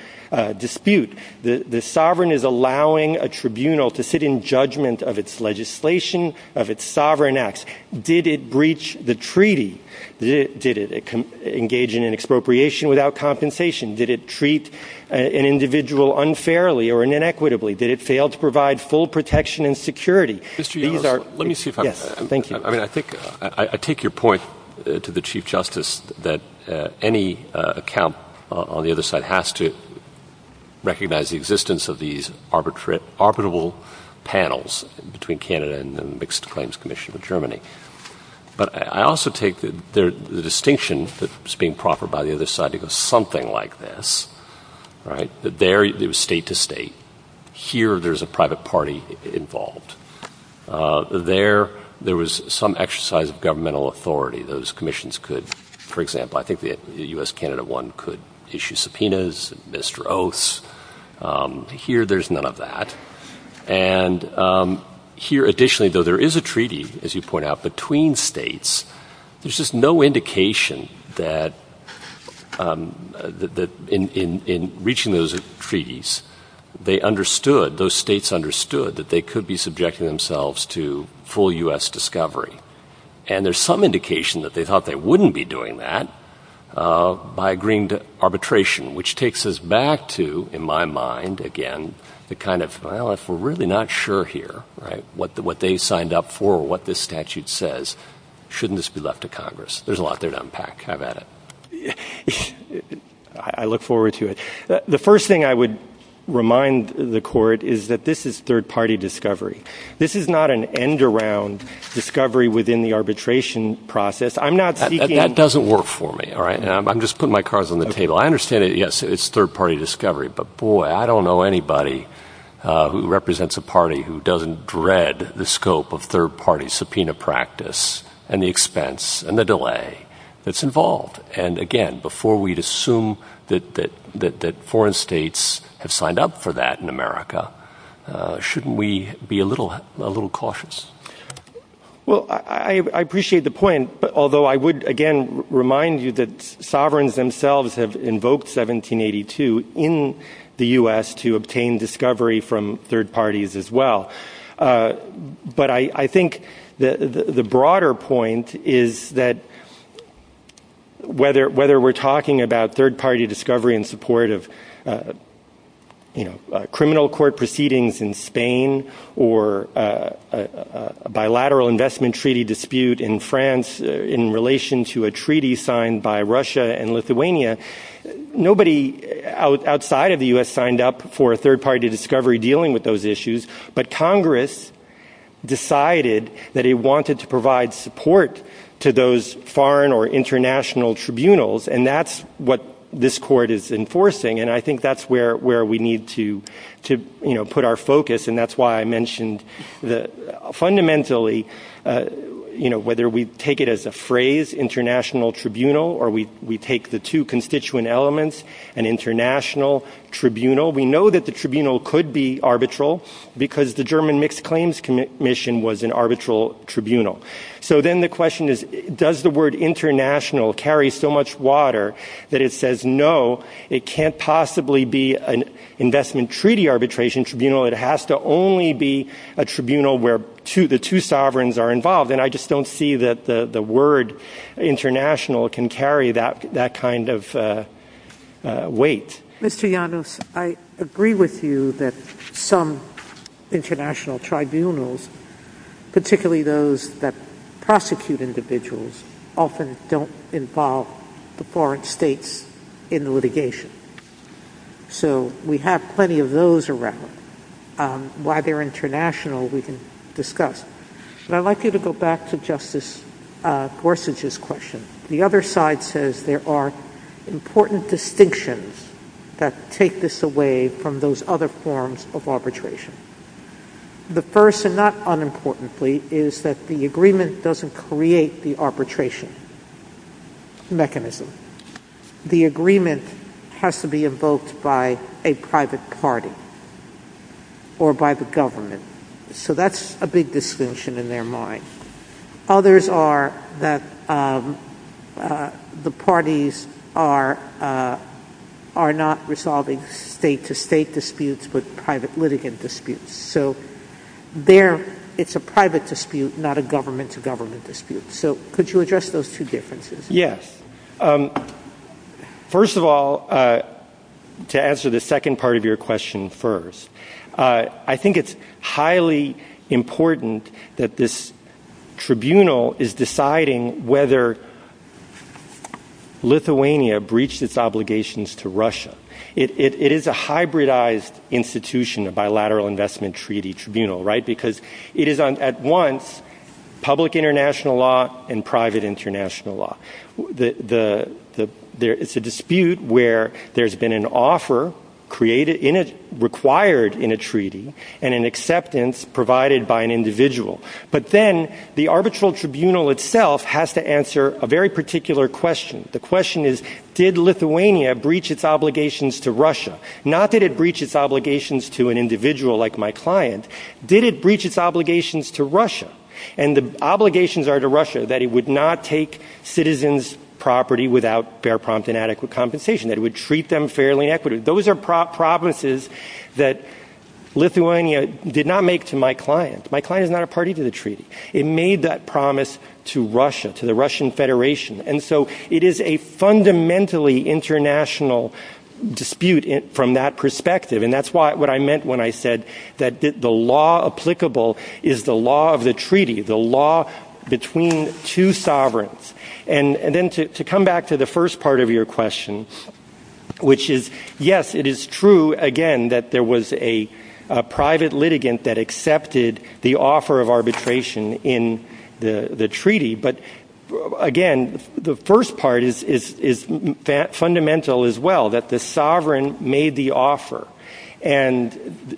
dispute. The sovereign is allowing a tribunal to sit in judgment of its legislation of its sovereign acts. Did it breach the treaty? Did it engage in expropriation without compensation? Did it treat an individual unfairly or inequitably? Did it fail to provide full protection and security? Let me see if I'm I mean I think I take your point to the Chief Justice that any account on the other side has to recognize the existence of these arbitrable panels between Canada and the Mixed Claims Commission of Germany but I also take the distinction that's being proffered by the other side of something like this that there it was state to state. Here there's a private party involved. There was some exercise of governmental authority. Those commissions could for example I think the U.S. Canada one could issue subpoenas Mr. Oaths. Here there's none of that and here additionally though there is a treaty as you point out between states. There's just no indication that in reaching those treaties they understood those states understood that they could be subjected themselves to full U.S. discovery and there's some indication that they thought they wouldn't be doing that by agreeing to arbitration which takes us back to in my mind again the kind of well if we're really not sure here what they signed up for or what this statute says shouldn't this be left to Congress? There's a lot there to unpack. I've had it. I look forward to it. The first thing I would remind the court is that this is third party discovery. This is not an end around discovery within the arbitration process. That doesn't work for me. I'm just putting my cards on the table. I understand it's third party discovery but boy I don't know anybody who represents a party who doesn't dread the scope of third party subpoena practice and the expense and the delay that's involved and again before we'd assume that foreign states have signed up for that in America shouldn't we be a little cautious? Well I appreciate the point although I would again remind you that sovereigns themselves have invoked 1782 in the US to obtain discovery from third parties as well but I think the broader point is that whether we're talking about criminal court proceedings in Spain or a bilateral investment treaty dispute in France in relation to a treaty signed by Russia and Lithuania nobody outside of the US signed up for a third party discovery dealing with those issues but Congress decided that it wanted to provide support to those foreign or international tribunals and that's what this I think that's where we need to put our focus and that's why I mentioned fundamentally whether we take it as a phrase international tribunal or we take the two constituent elements an international tribunal we know that the tribunal could be arbitral because the German Mixed Claims Commission was an arbitral tribunal so then the question is does the word international carry so much water that it says no, it can't possibly be an investment treaty arbitration tribunal, it has to only be a tribunal where the two sovereigns are involved and I just don't see that the word international can carry that kind of weight. Mr. Llanos, I agree with you that some international tribunals particularly those that prosecute individuals often don't involve the foreign states in the litigation so we have plenty of those around why they're international we can discuss I'd like you to go back to Justice Gorsuch's question the other side says there are important distinctions that take this away from those other forms of arbitration the first and not unimportantly is that the agreement doesn't create the arbitration mechanism the agreement has to be invoked by a private party or by the government so that's a big distinction in their mind others are that the parties are not resolving state to state disputes but private litigant disputes so there it's a private dispute not a government to government dispute so could you address those two differences? Yes. First of all to answer the second part of your question first I think it's highly important that this tribunal is deciding whether Lithuania breached its obligations to Russia it is a hybridized institution a bilateral investment treaty tribunal because it is at once public international law and private international law it's a dispute where there's been an offer required in a treaty and an acceptance provided by an individual but then the arbitral tribunal itself has to answer a very particular question the question is did Lithuania breach its obligations to Russia not that it breached its obligations to an individual like my client did it breach its obligations to Russia and the obligations are to Russia that it would not take citizens property without fair prompt and adequate compensation that it would treat them fairly equitably those are promises that Lithuania did not make to my client my client is not a party to the treaty it made that promise to Russia to the Russian Federation and so it is a fundamentally international dispute from that perspective and that's what I meant when I said that the law applicable is the law of the treaty the law between two sovereigns and then to come back to the first part of your questions which is yes it is true again that there was a private litigant that accepted the offer of arbitration in the treaty but again the first part is fundamental as well that the sovereign made the offer and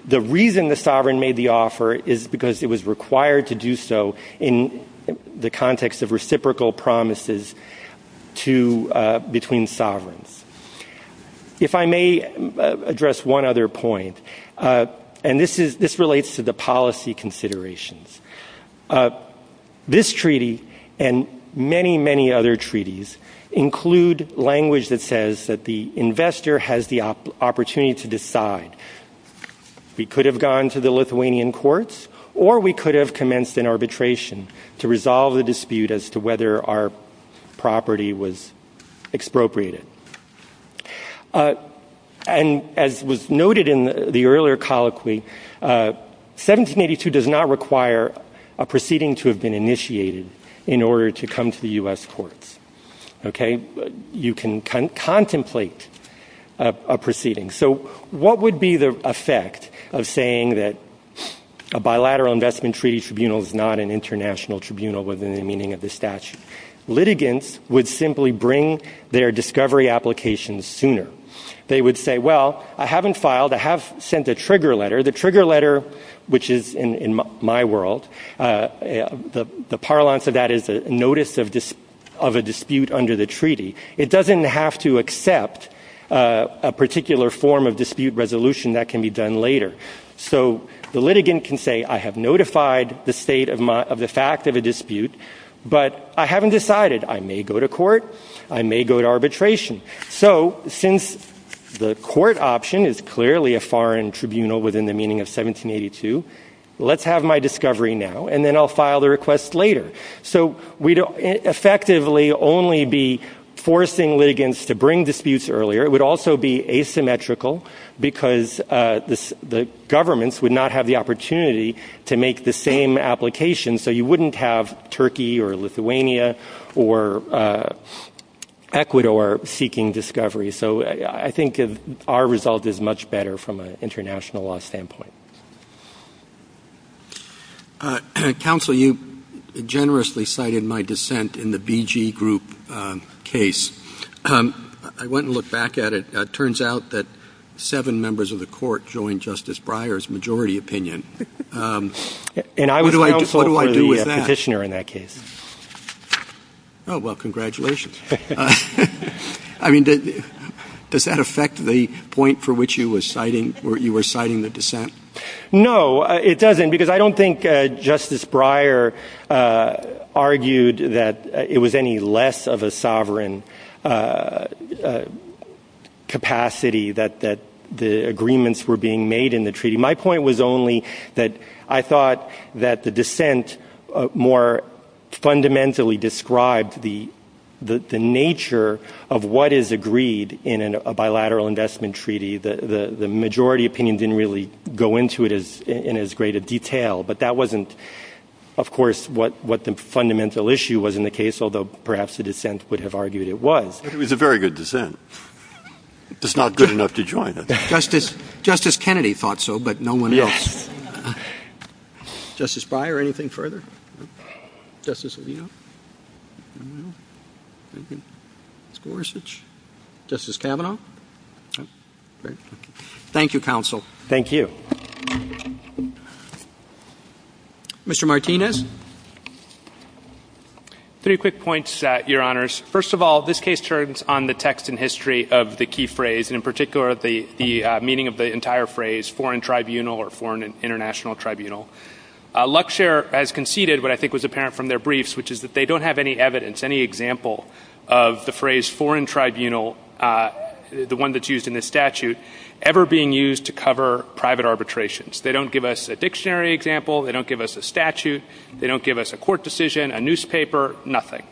the reason the sovereign made the offer is because it was required to do so in the context of reciprocal promises to between sovereigns if I may address one other point and this relates to the policy considerations this treaty and many many other treaties include language that says that the investor has the opportunity to decide we could have gone to the Lithuanian courts or we could have commenced an arbitration to resolve a dispute as to whether our property was expropriated and as was noted in the earlier colloquy 1782 does not require a proceeding to have been initiated in order to come to the US courts you can contemplate a proceeding so what would be the effect of saying that a bilateral investment treaty tribunal is not an international tribunal within the meaning of the statute litigants would simply bring their discovery applications sooner they would say well I haven't filed I have sent a trigger letter the trigger letter which is in my world the parlance of that is notice of a dispute under the treaty it doesn't have to accept a particular form of dispute resolution that can be done later so the litigant can say I have notified the state of the fact of a dispute but I haven't decided I may go to court I may go to arbitration so since the court option is clearly a foreign tribunal within the meaning of 1782 let's have my discovery now and then I'll we'd effectively only be forcing litigants to bring disputes earlier it would also be asymmetrical because the governments would not have the opportunity to make the same application so you wouldn't have Turkey or Lithuania or Ecuador seeking discovery so I think our result is much better from an international law standpoint counsel you generously cited my dissent in the BG group case I went to look back at it turns out that seven members of the court joined Justice Breyer's majority opinion what do I do with that oh well congratulations I mean does that affect the point for which you were citing the dissent no it I mean Justice Breyer argued that it was any less of a sovereign capacity that the agreements were being made in the treaty my point was only that I thought that the dissent more fundamentally described the nature of what is agreed in a bilateral investment treaty the majority opinion didn't really go into it in as great a detail but that wasn't of course what the fundamental issue was in the case although perhaps the dissent would have argued it was it was a very good dissent it's not good enough to join Justice Kennedy thought so but no one else Justice Breyer anything further Justice Kavanaugh thank you counsel thank you Mr. Martinez three quick points your honors first of all this case turns on the text and history of the key phrase and in particular the meaning of the entire phrase foreign tribunal or foreign international tribunal Luxair has conceded what I think was apparent from their briefs which is that they don't have any evidence any example of the phrase foreign tribunal the one that's used in the statute ever being used to cover private arbitrations they don't give us a dictionary example they don't give us a statute they don't give us a court decision a newspaper nothing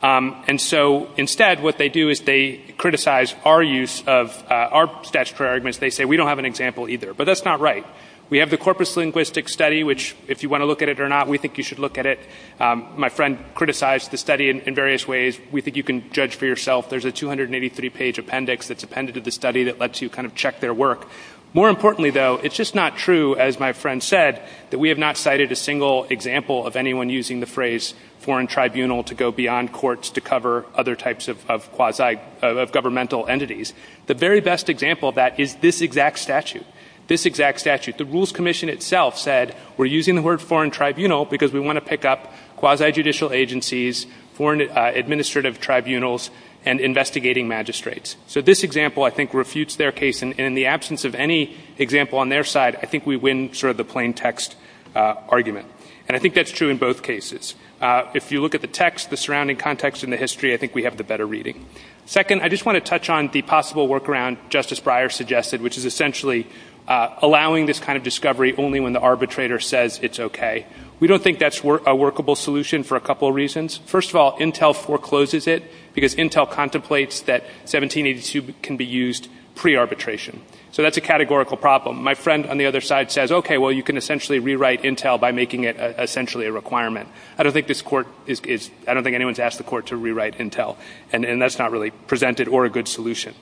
and so instead what they do is they criticize our use of our statutory arguments they say we don't have an example either but that's not right we have the corpus linguistic study which if you want to look at it or not we think you should look at it my friend criticized the study in various ways we think you can judge for yourself there's a 283 page appendix that's appended to the study that lets you kind of check their work more importantly though it's just not true as my friend said that we have not cited a single example of anyone using the phrase foreign tribunal to go beyond courts to cover other types of quasi governmental entities the very best example of that is this exact statute this exact statute the rules commission itself said we're using the word foreign tribunal because we want to pick up quasi judicial agencies foreign administrative tribunals and investigating magistrates so this example I think refutes their case and in the absence of any example on their side I think we win sort of the plain text argument and I think that's true in both cases if you look at the text the surrounding context in the history I think we have the better reading second I just want to touch on the possible work around Justice Breyer suggested which is essentially allowing this kind of discovery only when the arbitrator says it's okay we don't think that's a workable solution for a couple reasons first of all Intel forecloses it because Intel contemplates that 1782 can be used pre arbitration so that's a categorical problem my friend on the other side says okay well you can essentially rewrite Intel by making it essentially a requirement I don't think this court is I don't think anyone's asked the court to rewrite Intel and that's not really presented or a good solution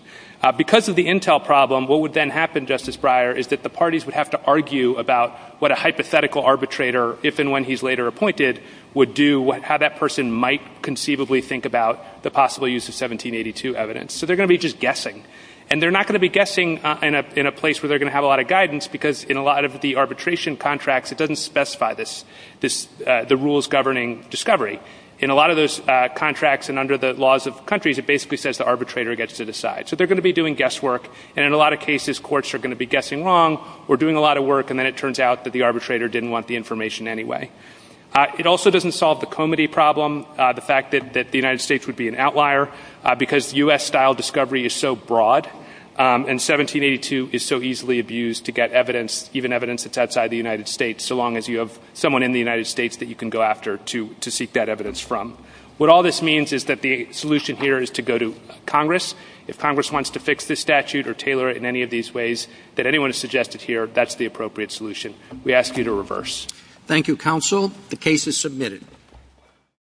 because of the Intel problem what would then happen Justice Breyer is that the parties would have to argue about what a hypothetical arbitrator if and when he's later appointed would do how that person might conceivably think about the possible use of 1782 evidence so they're going to be just guessing and they're not going to be guessing in a place where they're going to have a lot of guidance because in a lot of the arbitration contracts it doesn't specify this the rules governing discovery in a lot of those contracts and under the laws of countries it basically says the arbitrator gets to decide so they're going to be doing guess work and in a lot of cases courts are going to be guessing wrong or doing a lot of work and then it turns out that the arbitrator didn't want the information anyway it also doesn't solve the comity problem the fact that the United States would be an outlier because U.S. style discovery is so broad and 1782 is so easily abused to get evidence even evidence that's outside the United States so long as you have someone in the United States that you can go after to seek that evidence from what all this means is that the solution here is to go to Congress if Congress wants to fix this statute or tailor it in any of these ways that we ask you to reverse thank you counsel the case is submitted